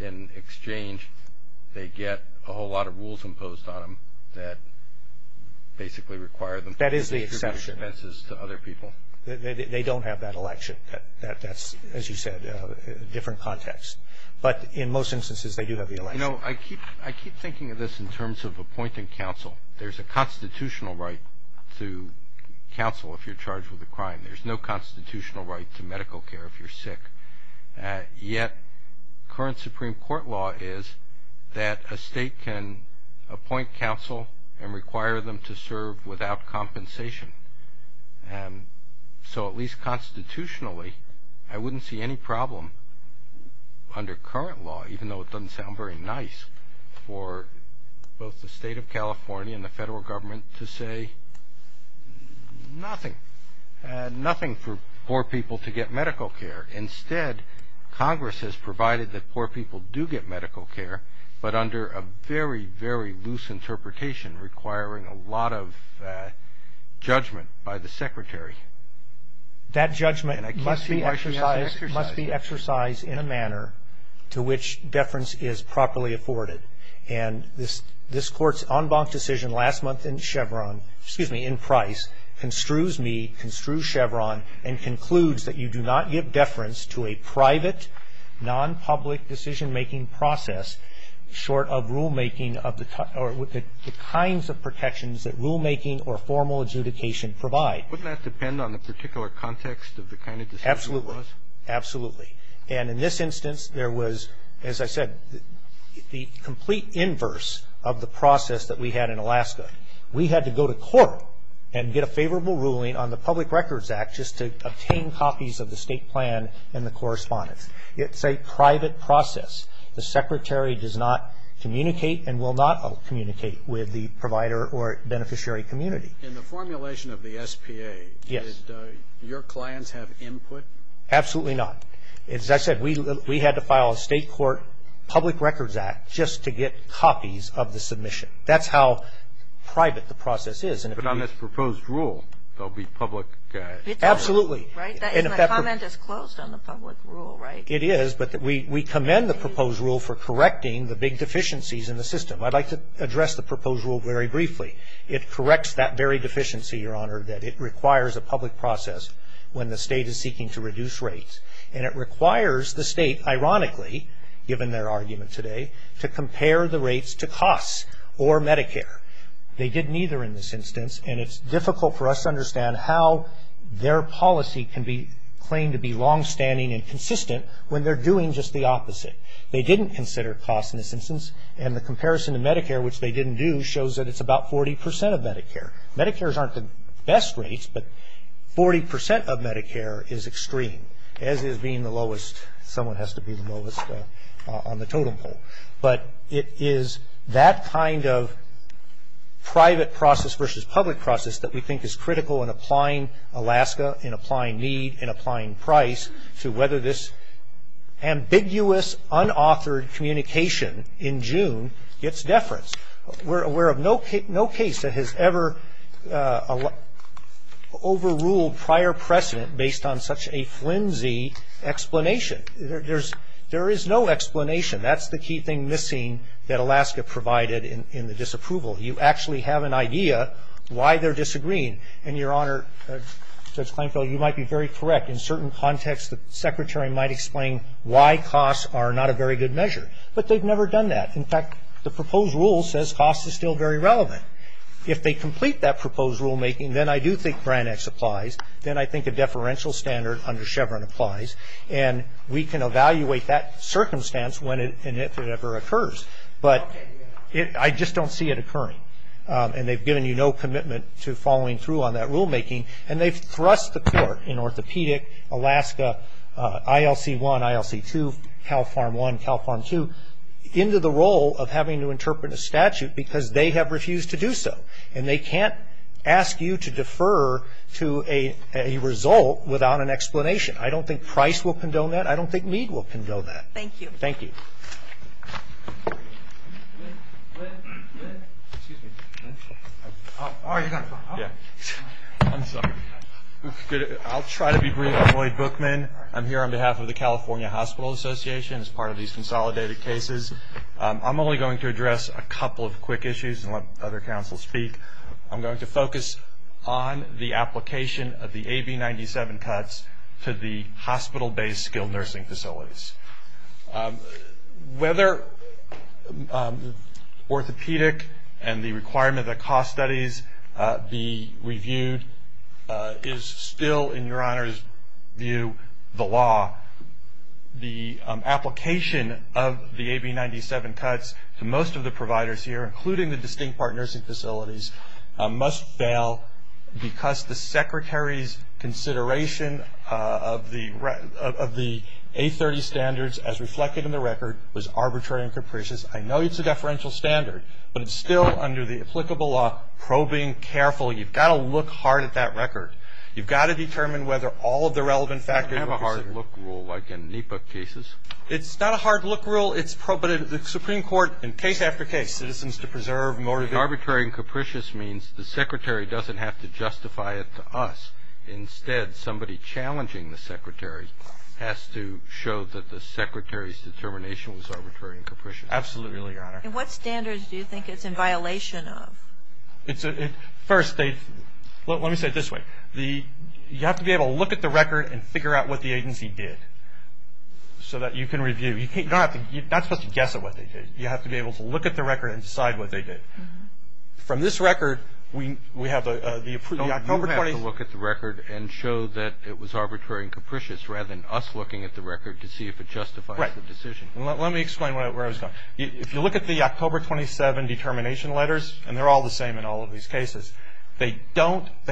In exchange, they get a whole lot of rules imposed on them that basically require them to distribute services to other people. That is the exception. They don't have that election. That's, as you said, a different context. But in most instances, they do have the election. You know, I keep thinking of this in terms of appointing counsel. There's a constitutional right to counsel if you're charged with a crime. There's no constitutional right to medical care if you're sick. Yet current Supreme Court law is that a state can appoint counsel and require them to serve without compensation. So at least constitutionally, I wouldn't see any problem under current law, even though it doesn't sound very nice for both the state of California and the federal government to say nothing, nothing for poor people to get medical care. Instead, Congress has provided that poor people do get medical care, but under a very, very loose interpretation requiring a lot of judgment by the secretary. That judgment must be exercised in a manner to which deference is properly afforded. And this court's en banc decision last month in Chevron, excuse me, in Price, construes me, construes Chevron, and concludes that you do not give deference to a private, non-public decision-making process short of rulemaking of the kinds of protections that rulemaking or formal adjudication provide. Wouldn't that depend on the particular context of the kind of decision it was? Absolutely. And in this instance, there was, as I said, the complete inverse of the process that we had in Alaska. We had to go to court and get a favorable ruling on the Public Records Act just to obtain copies of the state plan and the correspondence. It's a private process. The secretary does not communicate and will not communicate with the provider or beneficiary community. In the formulation of the SPA, does your client have input? Absolutely not. As I said, we had to file a state court Public Records Act just to get copies of the submission. That's how private the process is. But on this proposed rule, there will be public guidance. Absolutely. And the comment is closed on the public rule, right? It is, but we commend the proposed rule for correcting the big deficiencies in the system. I'd like to address the proposed rule very briefly. It corrects that very deficiency, Your Honor, that it requires a public process when the state is seeking to reduce rates. And it requires the state, ironically, given their argument today, to compare the rates to costs or Medicare. They didn't either in this instance. And it's difficult for us to understand how their policy can be claimed to be longstanding and consistent when they're doing just the opposite. They didn't consider costs in this instance. And the comparison to Medicare, which they didn't do, shows that it's about 40% of Medicare. Medicare's aren't the best rates, but 40% of Medicare is extreme, as is being the lowest. Someone has to be the lowest on the totem pole. But it is that kind of private process versus public process that we think is critical in applying Alaska, in applying need, in applying price to whether this ambiguous, unauthored communication in June gets deference. We're aware of no case that has ever overruled prior precedent based on such a flimsy explanation. There is no explanation. That's the key thing missing that Alaska provided in the disapproval. You actually have an idea why they're disagreeing. In your honor, Judge Clankville, you might be very correct. In certain contexts, the secretary might explain why costs are not a very good measure. But they've never done that. In fact, the proposed rule says cost is still very relevant. If they complete that proposed rulemaking, then I do think Brand X applies. Then I think a deferential standard under Chevron applies. And we can evaluate that circumstance when and if it ever occurs. But I just don't see it occurring. And they've given you no commitment to following through on that rulemaking. And they've thrust the court in orthopedic, Alaska, ILC 1, ILC 2, Cal Farm 1, Cal Farm 2, into the role of having to interpret a statute because they have refused to do so. And they can't ask you to defer to a result without an explanation. I don't think price will condone that. I don't think need will condone that. Thank you. Thank you. Go ahead. Go ahead. Excuse me. I'm sorry. I'll try to be really annoyed bookman. I'm here on behalf of the California Hospital Association as part of these consolidated cases. I'm only going to address a couple of quick issues and let other counsel speak. I'm going to focus on the application of the AB-97 cuts to the hospital-based skilled nursing facilities. Whether orthopedic and the requirement that cost studies be reviewed is still, in Your Honor's view, the law. The application of the AB-97 cuts to most of the providers here, including the distinct partners and facilities, must fail because the Secretary's consideration of the A30 standards as reflected in the record was arbitrary and capricious. I know it's a deferential standard, but it's still, under the applicable law, probing, careful. You've got to look hard at that record. You've got to determine whether all of the relevant factors. We have a hard-look rule like in NEPA cases. It's not a hard-look rule. It's probing. The Supreme Court, in case after case, citizens to preserve more. Arbitrary and capricious means the Secretary doesn't have to justify it to us. Instead, somebody challenging the Secretary has to show that the Secretary's determination was arbitrary and capricious. Absolutely, Your Honor. And what standards do you think it's in violation of? First, let me say it this way. You have to be able to look at the record and figure out what the agency did so that you can review. You're not supposed to guess at what they did. You have to be able to look at the record and decide what they did. From this record, we have the October 20th. You have to look at the record and show that it was arbitrary and capricious, rather than us looking at the record to see if it justifies the decision. Right. Let me explain where I was going. If you look at the October 27 determination letters, and they're all the same in all of these cases, they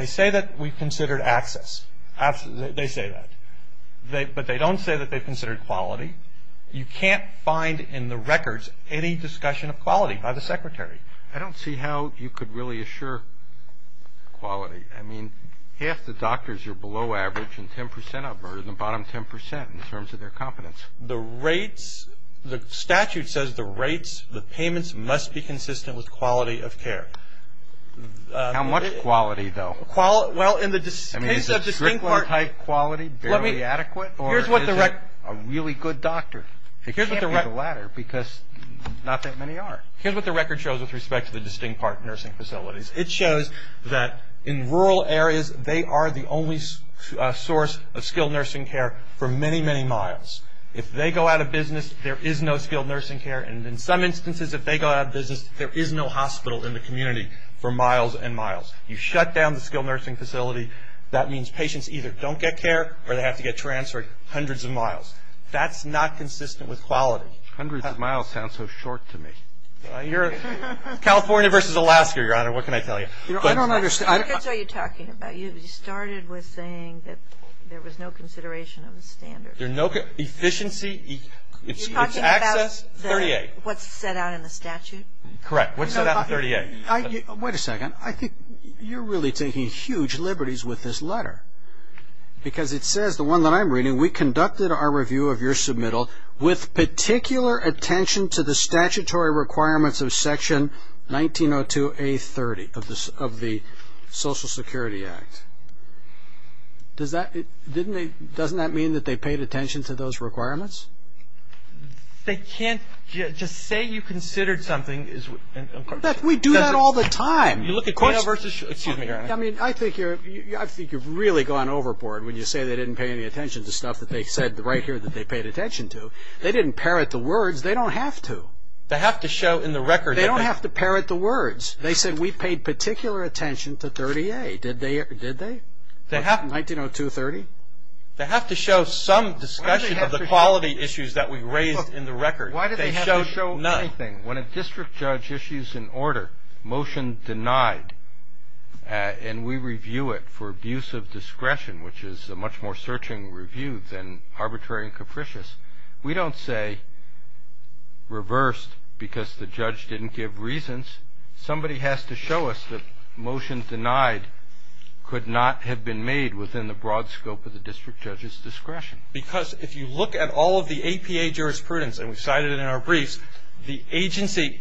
say that we've considered access. They say that. But they don't say that they've considered quality. You can't find in the records any discussion of quality by the Secretary. I don't see how you could really assure quality. I mean, half the doctors are below average and 10% of them are in the bottom 10% in terms of their competence. The statute says the rates, the payments, must be consistent with quality of care. How much quality, though? I mean, is a strictly high quality barely adequate, or is it a really good doctor? It can't be the latter because not that many are. Here's what the record shows with respect to the distinct park nursing facilities. It shows that in rural areas, they are the only source of skilled nursing care for many, many miles. If they go out of business, there is no skilled nursing care, and in some instances if they go out of business, there is no hospital in the community for miles and miles. You shut down the skilled nursing facility, that means patients either don't get care or they have to get transferred hundreds of miles. That's not consistent with quality. Hundreds of miles sounds so short to me. California versus Alaska, Your Honor. What can I tell you? I don't understand. What are you talking about? You started with saying that there was no consideration of the standards. There's no efficiency. You're talking about what's set out in the statute? Correct. What's set out in 38? Wait a second. I think you're really taking huge liberties with this letter because it says, the one that I'm reading, we conducted our review of your submittal with particular attention to the statutory requirements of Section 1902A-30 of the Social Security Act. Doesn't that mean that they paid attention to those requirements? They can't just say you considered something. In fact, we do that all the time. Excuse me, Your Honor. I mean, I think you've really gone overboard when you say they didn't pay any attention to stuff that they said right here that they paid attention to. They didn't parrot the words. They don't have to. They have to show in the record. They don't have to parrot the words. They said we paid particular attention to 30A. Did they? 1902-30? They have to show some discussion of the quality issues that we raised in the record. Why do they have to show nothing? When a district judge issues an order, motion denied, and we review it for abuse of discretion, which is a much more searching review than arbitrary and capricious, we don't say reversed because the judge didn't give reasons. Somebody has to show us that motion denied could not have been made within the broad scope of the district judge's discretion. Because if you look at all of the APA jurisprudence, and we cited it in our briefs, the agency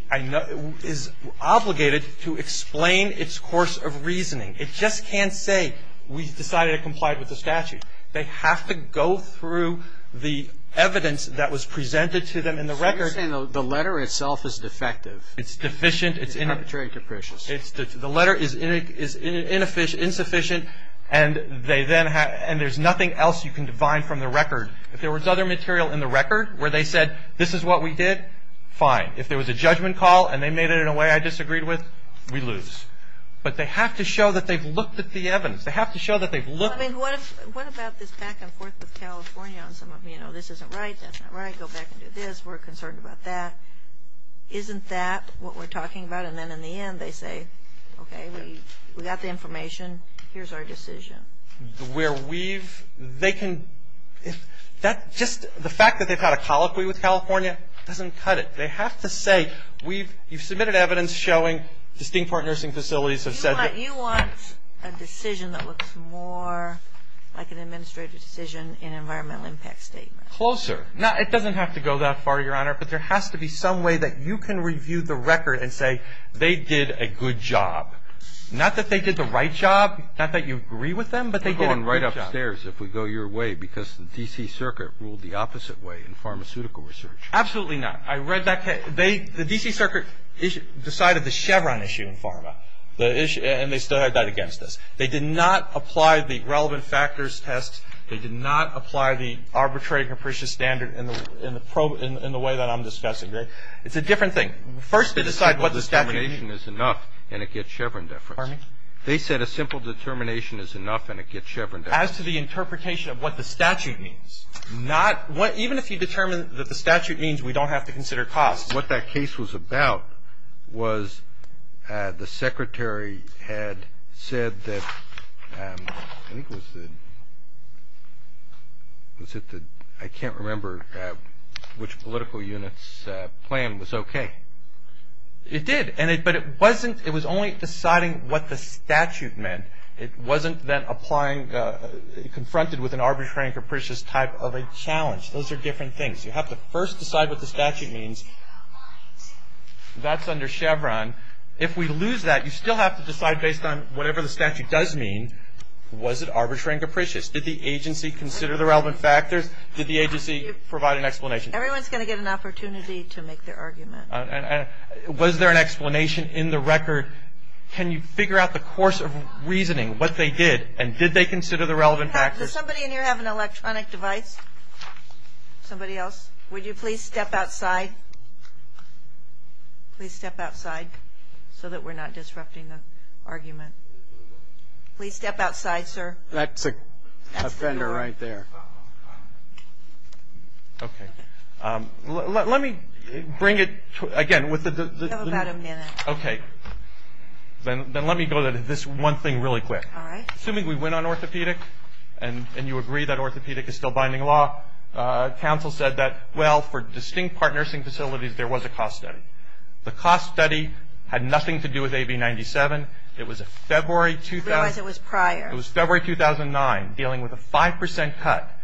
is obligated to explain its course of reasoning. It just can't say we decided to comply with the statute. They have to go through the evidence that was presented to them in the record. You're saying the letter itself is defective. It's deficient. It's arbitrary and capricious. The letter is insufficient, and there's nothing else you can divine from the record. If there was other material in the record where they said, this is what we did, fine. If there was a judgment call and they made it in a way I disagreed with, we lose. But they have to show that they've looked at the evidence. They have to show that they've looked. What about this back and forth with California? Some of them, you know, this isn't right, that's not right, go back and do this, we're concerned about that. Isn't that what we're talking about? And then in the end they say, okay, we got the information, here's our decision. Where we've, they can, that's just, the fact that they've got a colloquy with California doesn't cut it. They have to say, we've, you've submitted evidence showing distinct part nursing facilities that says that. You want a decision that looks more like an administrative decision in an environmental impact statement. Closer. It doesn't have to go that far, Your Honor, but there has to be some way that you can review the record and say, they did a good job. Not that they did the right job, not that you agree with them, but they did a good job. We're going right upstairs if we go your way, because the D.C. Circuit ruled the opposite way in pharmaceutical research. Absolutely not. I read that case. They, the D.C. Circuit decided the Chevron issue in pharma. And they still had that against us. They did not apply the relevant factors test. They did not apply the arbitrary and capricious standard in the way that I'm discussing, right? It's a different thing. First, they decide what the statute means. A simple determination is enough, and it gets Chevron deferred. Pardon me? They said a simple determination is enough, and it gets Chevron deferred. As to the interpretation of what the statute means, not, even if you determine what the statute means, we don't have to consider costs. What that case was about was the secretary had said that, I think it was, I can't remember which political unit's plan was okay. It did, but it wasn't, it was only deciding what the statute meant. It wasn't then applying, confronted with an arbitrary and capricious type of a challenge. Those are different things. You have to first decide what the statute means. That's under Chevron. If we lose that, you still have to decide based on whatever the statute does mean, was it arbitrary and capricious? Did the agency consider the relevant factors? Did the agency provide an explanation? Everyone's going to get an opportunity to make their argument. Was there an explanation in the record? Can you figure out the course of reasoning, what they did, and did they consider the relevant factors? Does somebody in here have an electronic device? Somebody else? Would you please step outside? Please step outside so that we're not disrupting the argument. Please step outside, sir. That's a offender right there. Okay. Let me bring it, again, with the... Tell us about them, Dennis. Okay. Then let me go to this one thing really quick. All right. Assuming we went on orthopedics, and you agree that orthopedic is still binding law, counsel said that, well, for distinct part nursing facilities, there was a cost study. The cost study had nothing to do with AB 97. It was a February... It was prior. It was February 2009, dealing with a 5% cut.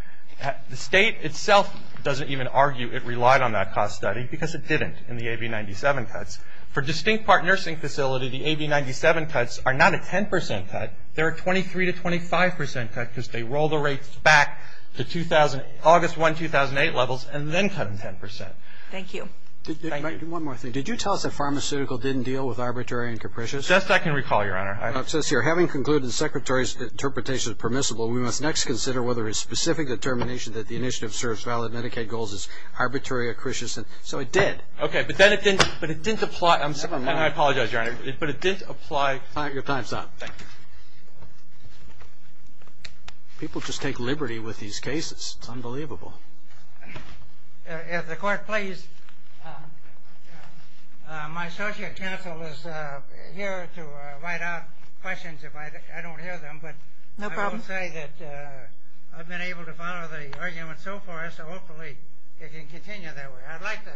The state itself doesn't even argue it relied on that cost study because it didn't in the AB 97 cuts. For distinct part nursing facilities, the AB 97 cuts are not a 10% cut. They're a 23% to 25% cut because they roll the rates back to August 1, 2008 levels and then cut them 10%. Thank you. One more thing. Did you tell us that pharmaceutical didn't deal with arbitrary and capricious? Yes, I can recall, Your Honor. It says here, having concluded the Secretary's interpretation of permissible, we must next consider whether his specific determination that the initiative serves valid Medicaid goals is arbitrary or capricious. So it did. Okay, but then it didn't apply... I apologize, Your Honor, but it didn't apply... People just take liberty with these cases. It's unbelievable. If the Court please... My associate counsel is here to write out questions if I don't hear them. No problem. But I will say that I've been able to follow the argument so far, so hopefully it can continue that way. I'd like to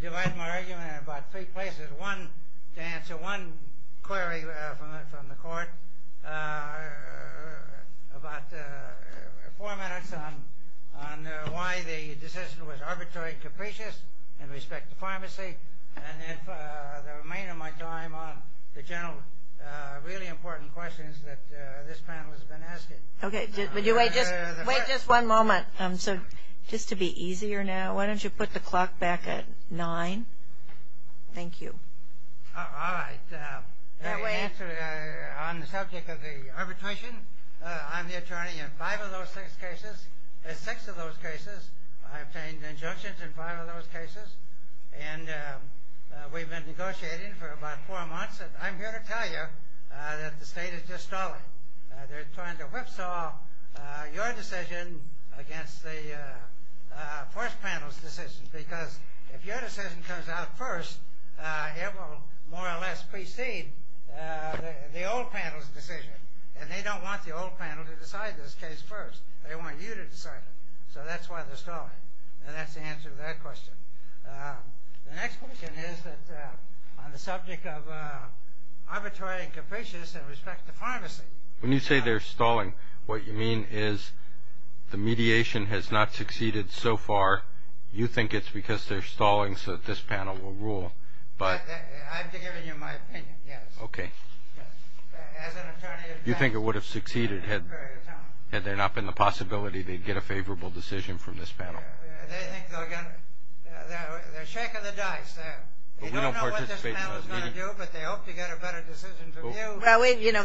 delight in my argument in about three places. To answer one query from the Court about the format I've come on, why the decision was arbitrary and capricious in respect to pharmacy, and the remainder of my time on the general really important questions that this panel has been asking. Okay. Would you wait just one moment just to be easier now? Why don't you put the clock back at nine? Thank you. All right. On the subject of the arbitration, I'm the attorney in five of those six cases. In six of those cases, I've obtained injunctions in five of those cases, and we've been negotiating for about four months. And I'm here to tell you that the state is just stalling. They're trying to whipsaw your decision against the first panel's decisions because if your decision comes out first, you will more or less precede the old panel's decision. And they don't want the old panel to decide this case first. They want you to decide it. So that's why they're stalling. And that's the answer to that question. The next question is on the subject of arbitrary and capricious in respect to pharmacy. When you say they're stalling, what you mean is the mediation has not succeeded so far. You think it's because they're stalling so that this panel will rule. I'm giving you my opinion, yes. Okay. You think it would have succeeded had there not been the possibility they'd get a favorable decision from this panel? They're shaking the dice. They don't know what this panel is going to do, but they hope to get a better decision from you.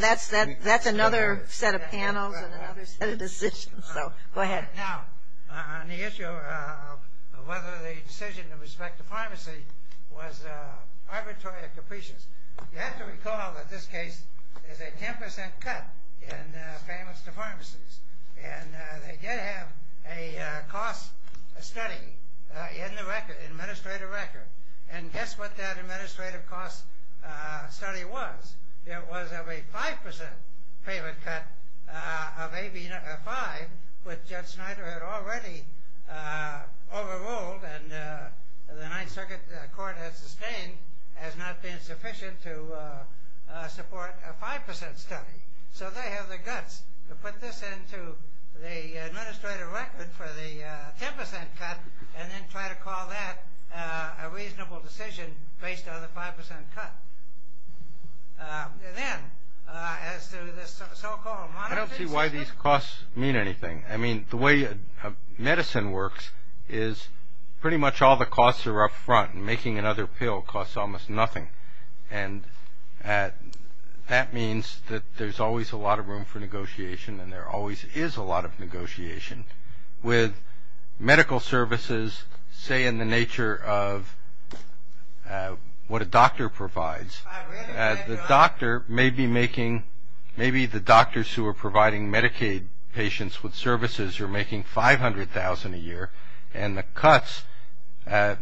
That's another set of panels and a better decision. So go ahead. Now, on the issue of whether the decision in respect to pharmacy was arbitrary or capricious, you have to recall that this case is a 10% cut in payments to pharmacies. And they did have a cost study in the administrative record. And guess what that administrative cost study was? It was a 5% payment cut of AB 5, which Judge Schneider had already overruled and the Ninth Circuit Court has sustained has not been sufficient to support a 5% study. So they have the guts to put this into the administrative record for the 10% cut and then try to call that a reasonable decision based on the 5% cut. And then, as to the so-called monitor. I don't see why these costs mean anything. I mean, the way medicine works is pretty much all the costs are up front, and making another pill costs almost nothing. And that means that there's always a lot of room for negotiation, and there always is a lot of negotiation with medical services, say, in the nature of what a doctor provides. The doctor may be making, maybe the doctors who are providing Medicaid patients with services are making $500,000 a year, and the cuts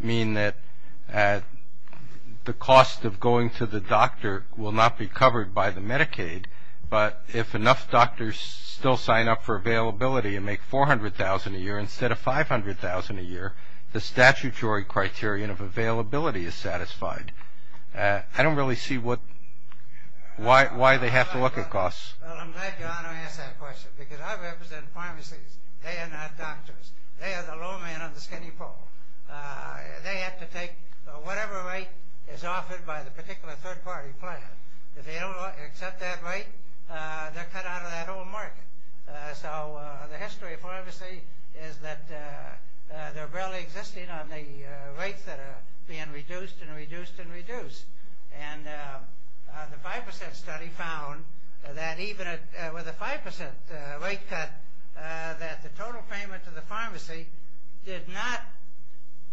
mean that the cost of going to the doctor will not be covered by the Medicaid. But if enough doctors still sign up for availability and make $400,000 a year instead of $500,000 a year, the statutory criterion of availability is satisfied. I don't really see why they have to look at costs. Well, I'm glad John asked that question, because I represent pharmacy. They are not doctors. They are the low man on the skinny pole. They have to take whatever rate is offered by the particular third-party plan. If they don't accept that rate, they're cut out of that whole market. So the history of pharmacy is that they're barely existing on the rates that are being reduced and reduced and reduced. And the 5% study found that even with a 5% rate cut, that the total payment to the pharmacy did not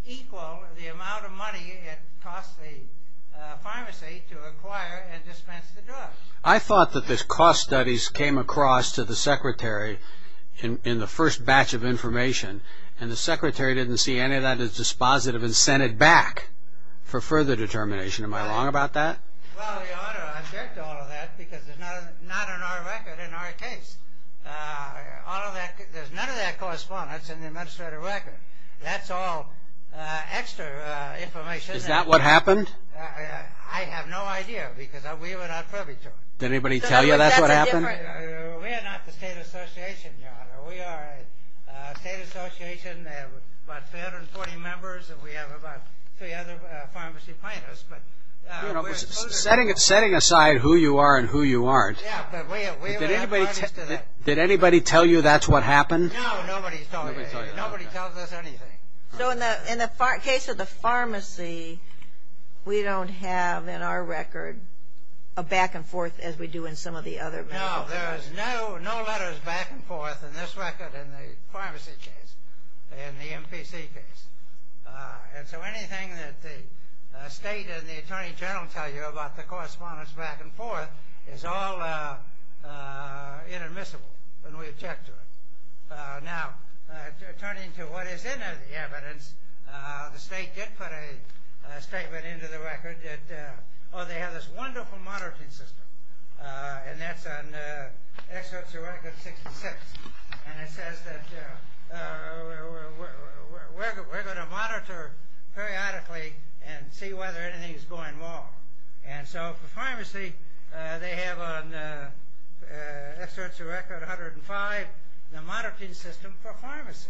equal the amount of money it cost the pharmacy to acquire and dispense the drugs. I thought that the cost studies came across to the secretary in the first batch of information, and the secretary didn't see any of that as dispositive and sent it back for further determination. Am I wrong about that? Well, they ought to object to all of that, because it's not in our record, in our case. There's none of that correspondence in the administrative record. That's all extra information. Is that what happened? I have no idea, because we were not privy to it. Did anybody tell you that's what happened? We are not the state association, Your Honor. We are a state association of about 340 members, and we have about 300 pharmacy planners. Setting aside who you are and who you aren't, did anybody tell you that's what happened? No, nobody told us anything. So in the case of the pharmacy, we don't have in our record a back and forth as we do in some of the other records. No, there's no letters back and forth in this record in the pharmacy case, in the MPC case. And so anything that the state and the attorney general tell you about the correspondence back and forth is all inadmissible when we object to it. Now, turning to what is in the evidence, the state did put a statement into the record that, oh, they have this wonderful monitoring system, and that's on excerpts of record 66. And it says that we're going to monitor periodically and see whether anything is going wrong. And so for pharmacy, they have on excerpts of record 105, the monitoring system for pharmacy.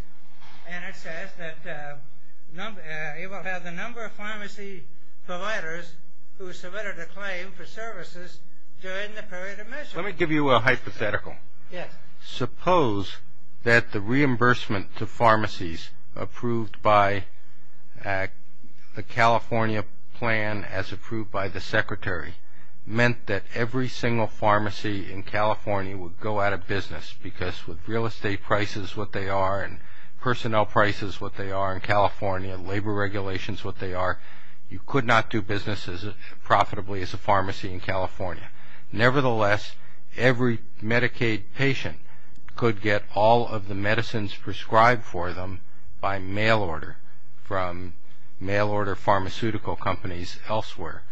And it says that it has a number of pharmacy providers who submitted a claim for services during the period of measure. Let me give you a hypothetical. Suppose that the reimbursement to pharmacies approved by the California plan as approved by the secretary meant that every single pharmacy in California would go out of business because with real estate prices what they are and personnel prices what they are in California and labor regulations what they are, you could not do businesses profitably as a pharmacy in California. Nevertheless, every Medicaid patient could get all of the medicines prescribed for them by mail order from mail order pharmaceutical companies elsewhere.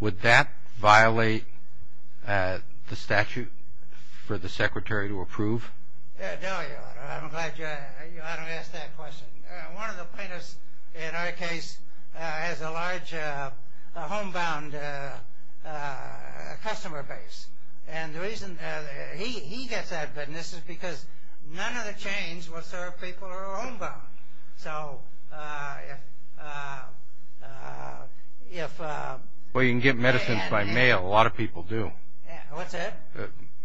Would that violate the statute for the secretary to approve? No, Your Honor. I'm glad you asked that question. One of the plaintiffs, in our case, has a large homebound customer base. And the reason that he gets out of business is because none of the chains will serve people who are homebound. So if... Well, you can get medicines by mail. A lot of people do. What's that?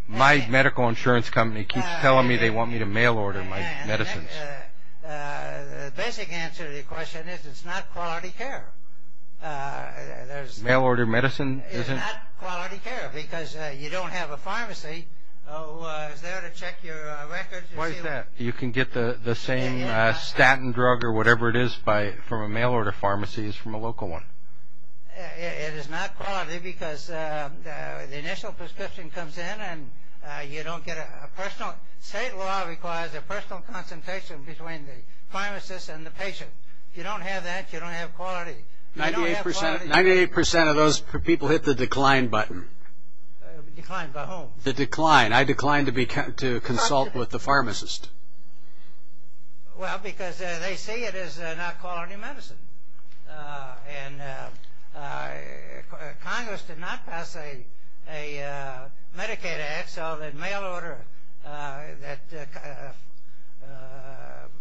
My medical insurance company keeps telling me they want me to mail order my medicines. The basic answer to the question is it's not quality care. Mail order medicine isn't? It's not quality care because you don't have a pharmacy who is there to check your records. Why is that? You can get the same statin drug or whatever it is from a mail order pharmacy as from a local one. It is not quality because the initial prescription comes in and you don't get a personal state law requires a personal consultation between the pharmacist and the patient. If you don't have that, you don't have quality. 98% of those people hit the decline button. Decline by whom? The decline. I declined to consult with the pharmacist. Well, because they see it as not quality medicine. And Congress did not pass a Medicaid Act so that mail order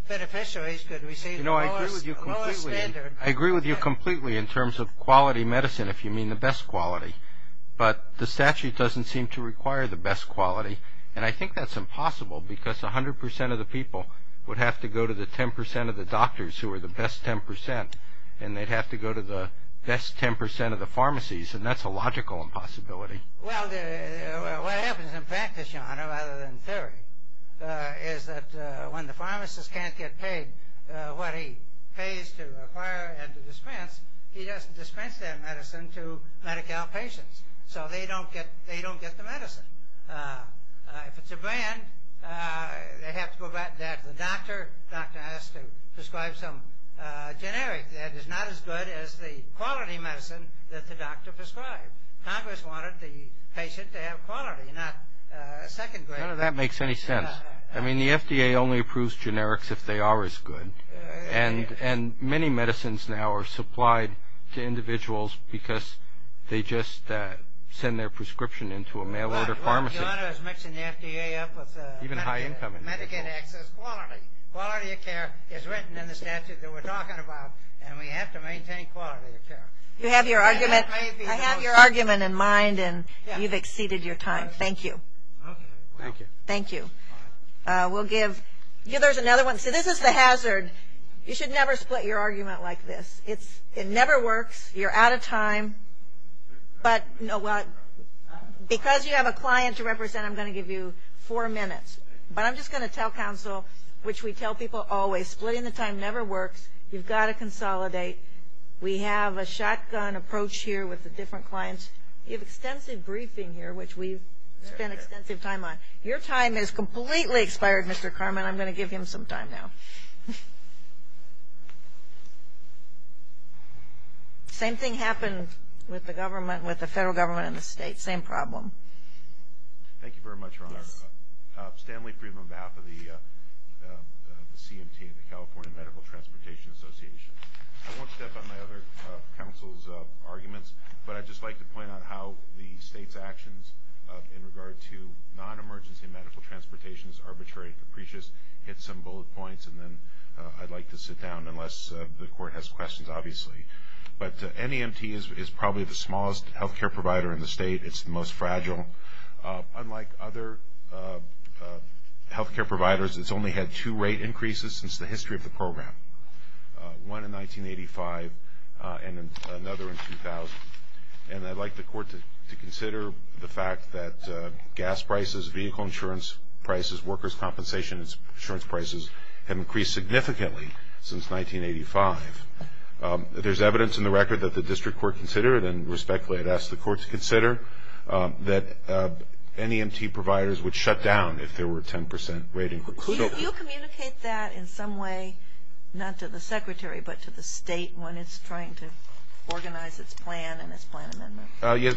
beneficiaries could receive the lowest standard. You know, I agree with you completely in terms of quality medicine, if you mean the best quality. But the statute doesn't seem to require the best quality, and I think that's impossible because 100% of the people would have to go to the 10% of the doctors who are the best 10%, and they'd have to go to the best 10% of the pharmacies, and that's a logical impossibility. Well, what happens in practice, John, rather than in theory, is that when the pharmacist can't get paid what he pays to acquire and to dispense, he doesn't dispense that medicine to Medi-Cal patients. So they don't get the medicine. If it's a brand, they have to go back to the doctor. The doctor has to prescribe some generic that is not as good as the quality medicine that the doctor prescribed. Congress wanted the patient to have quality, not second grade. None of that makes any sense. I mean, the FDA only approves generics if they are as good. And many medicines now are supplied to individuals because they just send their prescription into a mail-order pharmacist. Even high-income individuals. Quality of care is written in the statute that we're talking about, and we have to maintain quality of care. I have your argument in mind, and you've exceeded your time. Thank you. Thank you. We'll give others another one. Okay, so this is the hazard. You should never split your argument like this. It never works. You're out of time. But because you have a client to represent, I'm going to give you four minutes. But I'm just going to tell counsel, which we tell people always, splitting the time never works. You've got to consolidate. We have a shotgun approach here with the different clients. You have extensive briefing here, which we've spent extensive time on. Your time has completely expired, Mr. Carman. I'm going to give him some time now. Same thing happens with the government, with the federal government and the state. Same problem. Thank you very much, Rona. Stanley Friedman on behalf of the CMT, the California Medical Transportation Association. I won't step on my other counsel's arguments, but I'd just like to point out how the state's actions in regard to non-emergency medical transportations, arbitrary capricious, hit some bullet points. And then I'd like to sit down unless the court has questions, obviously. But NEMT is probably the smallest health care provider in the state. It's the most fragile. Unlike other health care providers, it's only had two rate increases since the history of the program, one in 1985 and another in 2000. And I'd like the court to consider the fact that gas prices, vehicle insurance prices, workers' compensation insurance prices have increased significantly since 1985. If there's evidence in the record that the district court considered, then respectfully I'd ask the court to consider that NEMT providers would shut down if there were a 10% rate increase. Do you communicate that in some way, not to the secretary, but to the state when it's trying to organize its plan and its plan amendments?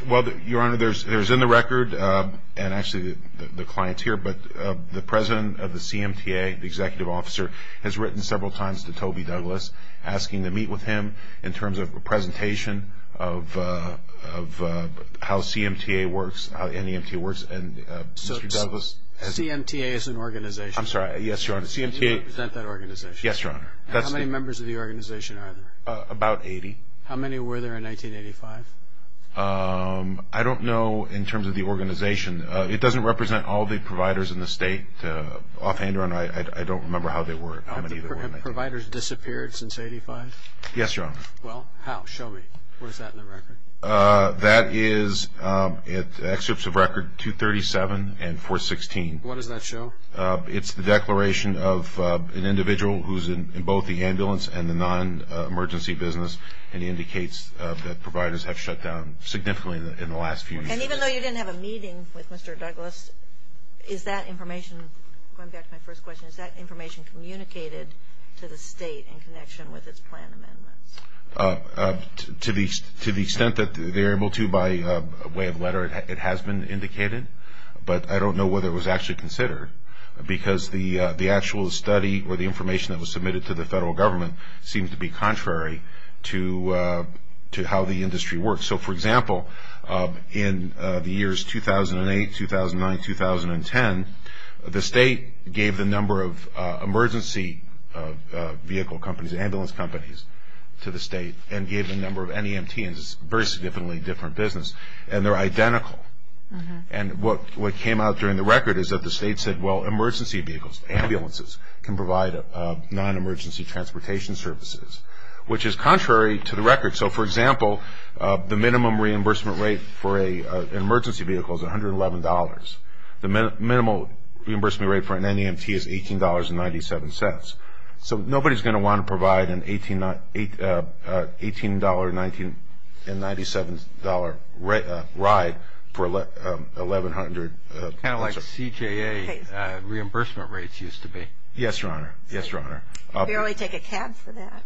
Well, Your Honor, there's in the record, and actually the client's here, but the president of the CMTA, the executive officer, has written several times to Toby Douglas asking to meet with him in terms of a presentation of how CMTA works, how NEMT works. So CMTA is an organization. I'm sorry, yes, Your Honor. CMTA is an organization. Yes, Your Honor. How many members of the organization are there? About 80. How many were there in 1985? I don't know in terms of the organization. It doesn't represent all the providers in the state. Offhand or not, I don't remember how many there were. Have providers disappeared since 1985? Yes, Your Honor. Well, how? Show me. Where's that in the record? That is at Excerpts of Record 237 and 416. What does that show? It's the declaration of an individual who's in both the ambulance and the non-emergency business, and it indicates that providers have shut down significantly in the last few weeks. And even though you didn't have a meeting with Mr. Douglas, is that information, going back to my first question, is that information communicated to the state in connection with its plan amendments? To the extent that they're able to by way of letter, it has been indicated. But I don't know whether it was actually considered, because the actual study or the information that was submitted to the federal government seems to be contrary to how the industry works. So, for example, in the years 2008, 2009, 2010, the state gave the number of emergency vehicle companies, ambulance companies, to the state and gave the number of NEMT, which is a very significantly different business, and they're identical. And what came out during the record is that the state said, well, emergency vehicles, ambulances, can provide non-emergency transportation services, which is contrary to the record. So, for example, the minimum reimbursement rate for an emergency vehicle is $111. The minimum reimbursement rate for an NEMT is $18.97. So nobody's going to want to provide an $18.97 ride for 1,100. Kind of like CJA reimbursement rates used to be. Yes, Your Honor. Yes, Your Honor. I barely take a cab for that.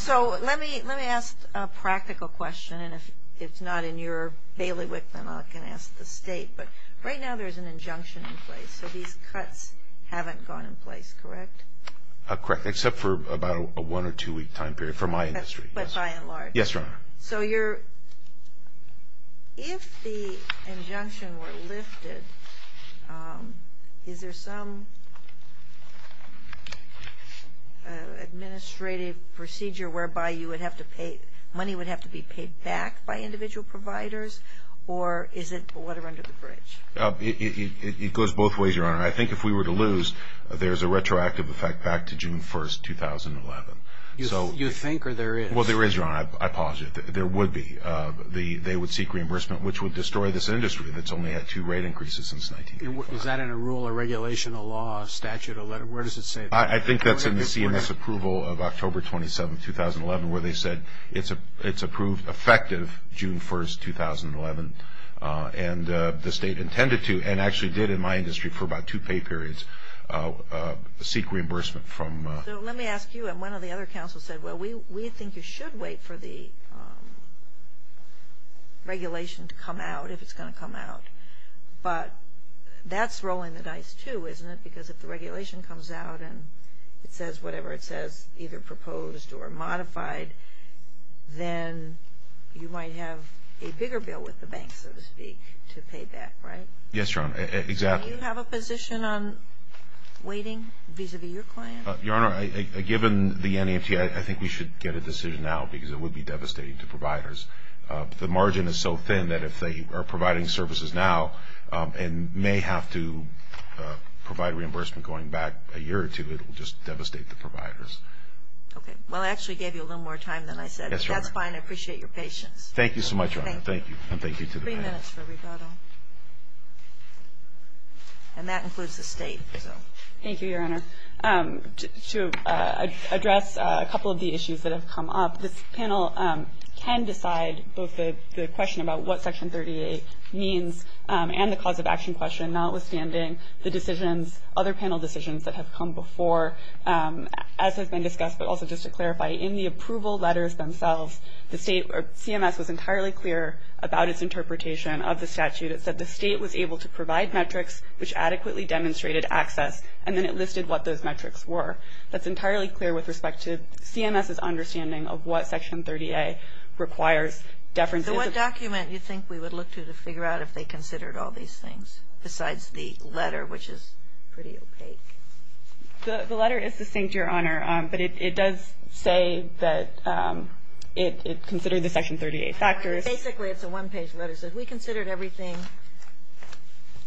So let me ask a practical question, and if it's not in your bailiwick memo, I can ask the state. But right now there's an injunction in place. So these cuts haven't gone in place, correct? Correct, except for about a one- or two-week time period for my industry. But by and large? Yes, Your Honor. So if the injunction were listed, is there some administrative procedure whereby money would have to be paid back by individual providers, or is it water under the bridge? It goes both ways, Your Honor. I think if we were to lose, there's a retroactive effect back to June 1, 2011. You think, or there is? Well, there is, Your Honor. I posit that there would be. They would seek reimbursement, which would destroy this industry that's only had two rate increases since 1911. Is that in a rule or regulation of law, Statute 11? Where does it say that? I think that's in the CMS approval of October 27, 2011, where they said it's approved effective June 1, 2011. And the state intended to, and actually did in my industry for about two pay periods, seek reimbursement from. So let me ask you, and one of the other counsels said, well, we think you should wait for the regulation to come out, if it's going to come out. But that's rolling the dice, too, isn't it? Because if the regulation comes out and it says whatever it says, either proposed or modified, then you might have a bigger bill with the bank, so to speak, to pay back, right? Yes, Your Honor, exactly. Do you have a position on waiting vis-a-vis your clients? Your Honor, given the NEMT, I think we should get a decision now because it would be devastating to providers. The margin is so thin that if they are providing services now and may have to provide reimbursement going back a year or two, it will just devastate the providers. Okay. Well, I actually gave you a little more time than I said. That's fine. I appreciate your patience. Thank you so much, Your Honor. Thank you. And thank you to the panel. Three minutes for rebuttal. And that includes the state. Thank you, Your Honor. To address a couple of the issues that have come up, this panel can decide both the question about what Section 38 means and the cause of action question, notwithstanding the decisions, other panel decisions that have come before, as has been discussed, but also just to clarify, in the approval letters themselves, CMS was entirely clear about its interpretation of the statute. It said the state was able to provide metrics which adequately demonstrated access, and then it listed what those metrics were. That's entirely clear with respect to CMS's understanding of what Section 38 requires. So what document do you think we would look to to figure out if they considered all these things besides the letter, which is pretty opaque? The letter is succinct, Your Honor, but it does say that it considered the Section 38 factors. Basically, it's a one-page letter. It says we considered everything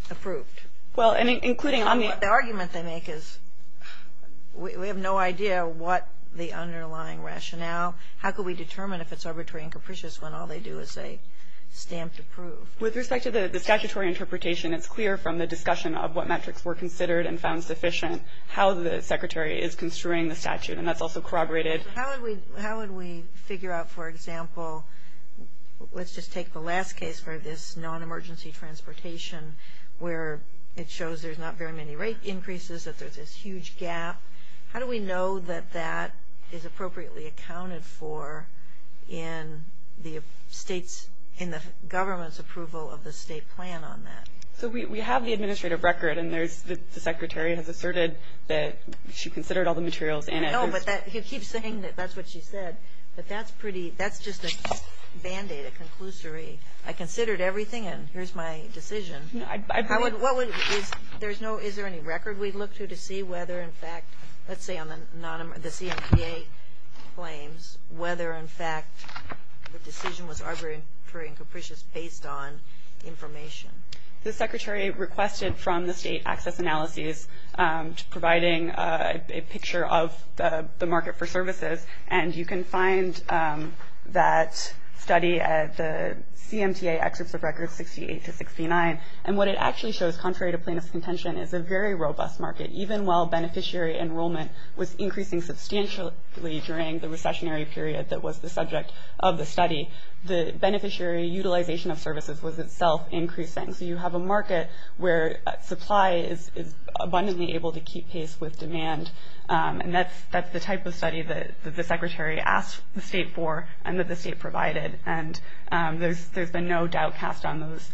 approved. Well, and including on the argument they make is we have no idea what the underlying rationale, how could we determine if it's arbitrary and capricious when all they do is say stamps approved. With respect to the statutory interpretation, it's clear from the discussion of what metrics were considered and found sufficient how the Secretary is construing the statute, and that's also corroborated. How would we figure out, for example, let's just take the last case for this non-emergency transportation where it shows there's not very many rate increases, that there's this huge gap. How do we know that that is appropriately accounted for in the government's approval of the state plan on that? So we have the administrative record, and the Secretary has asserted that she considered all the materials. No, but he keeps saying that that's what she said, but that's just a band-aid, a conclusory. I considered everything, and here's my decision. Is there any record we'd look to to see whether, in fact, let's say on the CMCA claims, whether, in fact, the decision was arbitrary and capricious based on information? The Secretary requested from the state access analyses providing a picture of the market for services, and you can find that study at the CMCA access of records 68 to 69, and what it actually shows, contrary to plaintiff's contention, is a very robust market. Even while beneficiary enrollment was increasing substantially during the recessionary period that was the subject of the study, the beneficiary utilization of services was itself increasing. So you have a market where supply is abundantly able to keep pace with demand, and that's the type of study that the Secretary asked the state for and that the state provided, and there's been no doubt cast on those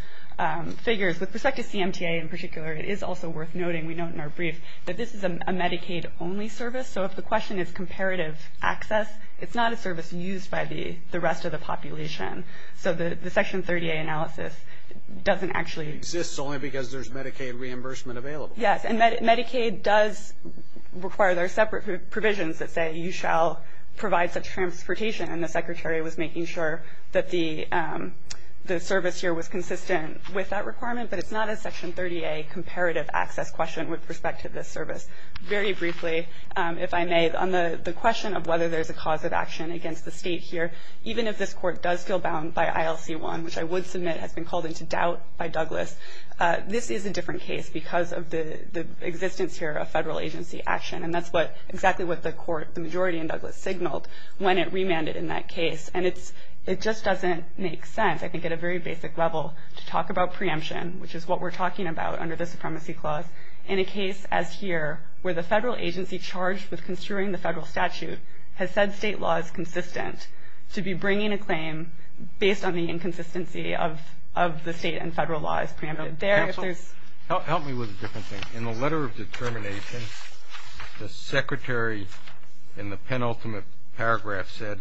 figures. With respect to CMCA in particular, it is also worth noting, we note in our brief, that this is a Medicaid-only service, so if the question is comparative access, it's not a service used by the rest of the population. So the Section 30A analysis doesn't actually exist. It exists only because there's Medicaid reimbursement available. Yes, and Medicaid does require separate provisions that say you shall provide such transportation, and the Secretary was making sure that the service here was consistent with that requirement, but it's not a Section 30A comparative access question with respect to this service. Very briefly, if I may, on the question of whether there's a cause of action against the state here, even if this court does feel bound by ILC1, which I would submit has been called into doubt by Douglas, this is a different case because of the existence here of federal agency action, and that's exactly what the majority in Douglas signaled when it remanded in that case, and it just doesn't make sense, I think, at a very basic level to talk about preemption, which is what we're talking about under the Supremacy Clause in a case as here, where the federal agency charged with construing the federal statute has said state law is consistent to be bringing a claim based on the inconsistency of the state and federal law as preempted. Counsel, help me with a different thing. In the letter of determination, the Secretary in the penultimate paragraph said,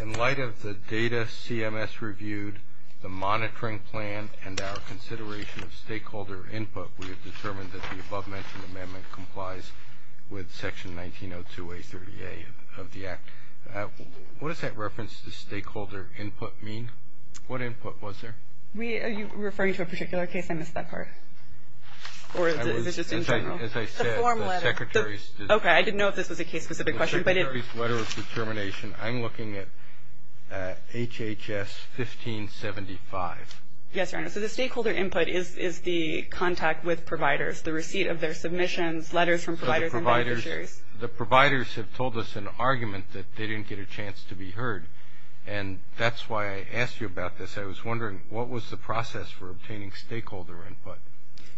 In light of the data CMS reviewed, the monitoring plan, and our consideration of stakeholder input, we have determined that the above-mentioned amendment complies with Section 1902A, 30A of the Act. What does that reference to stakeholder input mean? What input was there? Are you referring to a particular case? I missed that part. As I said, the Secretary's letter of determination, I'm looking at HHS 1575. Yes, Your Honor. So the stakeholder input is the contact with providers, the receipt of their submissions, letters from providers and beneficiaries. The providers have told us an argument that they didn't get a chance to be heard, and that's why I asked you about this. I was wondering, what was the process for obtaining stakeholder input?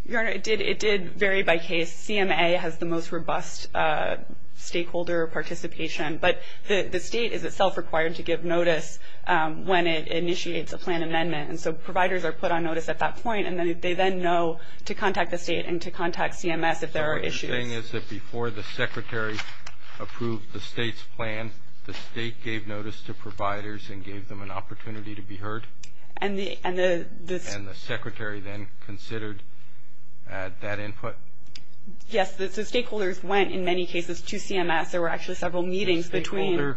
Your Honor, it did vary by case. The CMA has the most robust stakeholder participation, but the State is itself required to give notice when it initiates a plan amendment, and so providers are put on notice at that point, and they then know to contact the State and to contact CMS if there are issues. The thing is that before the Secretary approved the State's plan, the State gave notice to providers and gave them an opportunity to be heard? And the Secretary then considered that input? Yes. The stakeholders went, in many cases, to CMS. There were actually several meetings between.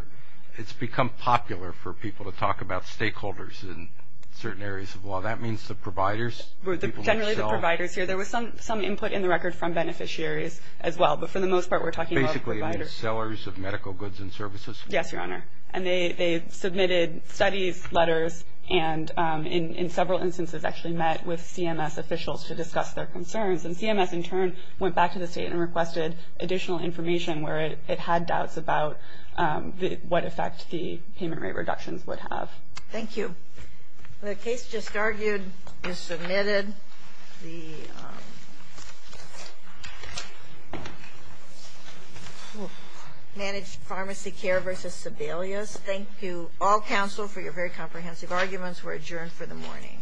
It's become popular for people to talk about stakeholders in certain areas of law. That means the providers? Generally the providers. There was some input in the record from beneficiaries as well, but for the most part we're talking about providers. Basically sellers of medical goods and services? Yes, Your Honor. And they submitted studies, letters, and in several instances actually met with CMS officials to discuss their concerns. And CMS in turn went back to the State and requested additional information where it had doubts about what effects the payment rate reductions would have. Thank you. The case just argued is submitted. The managed pharmacy care versus Sedalia. Thank you, all counsel, for your very comprehensive arguments. We're adjourned for the morning.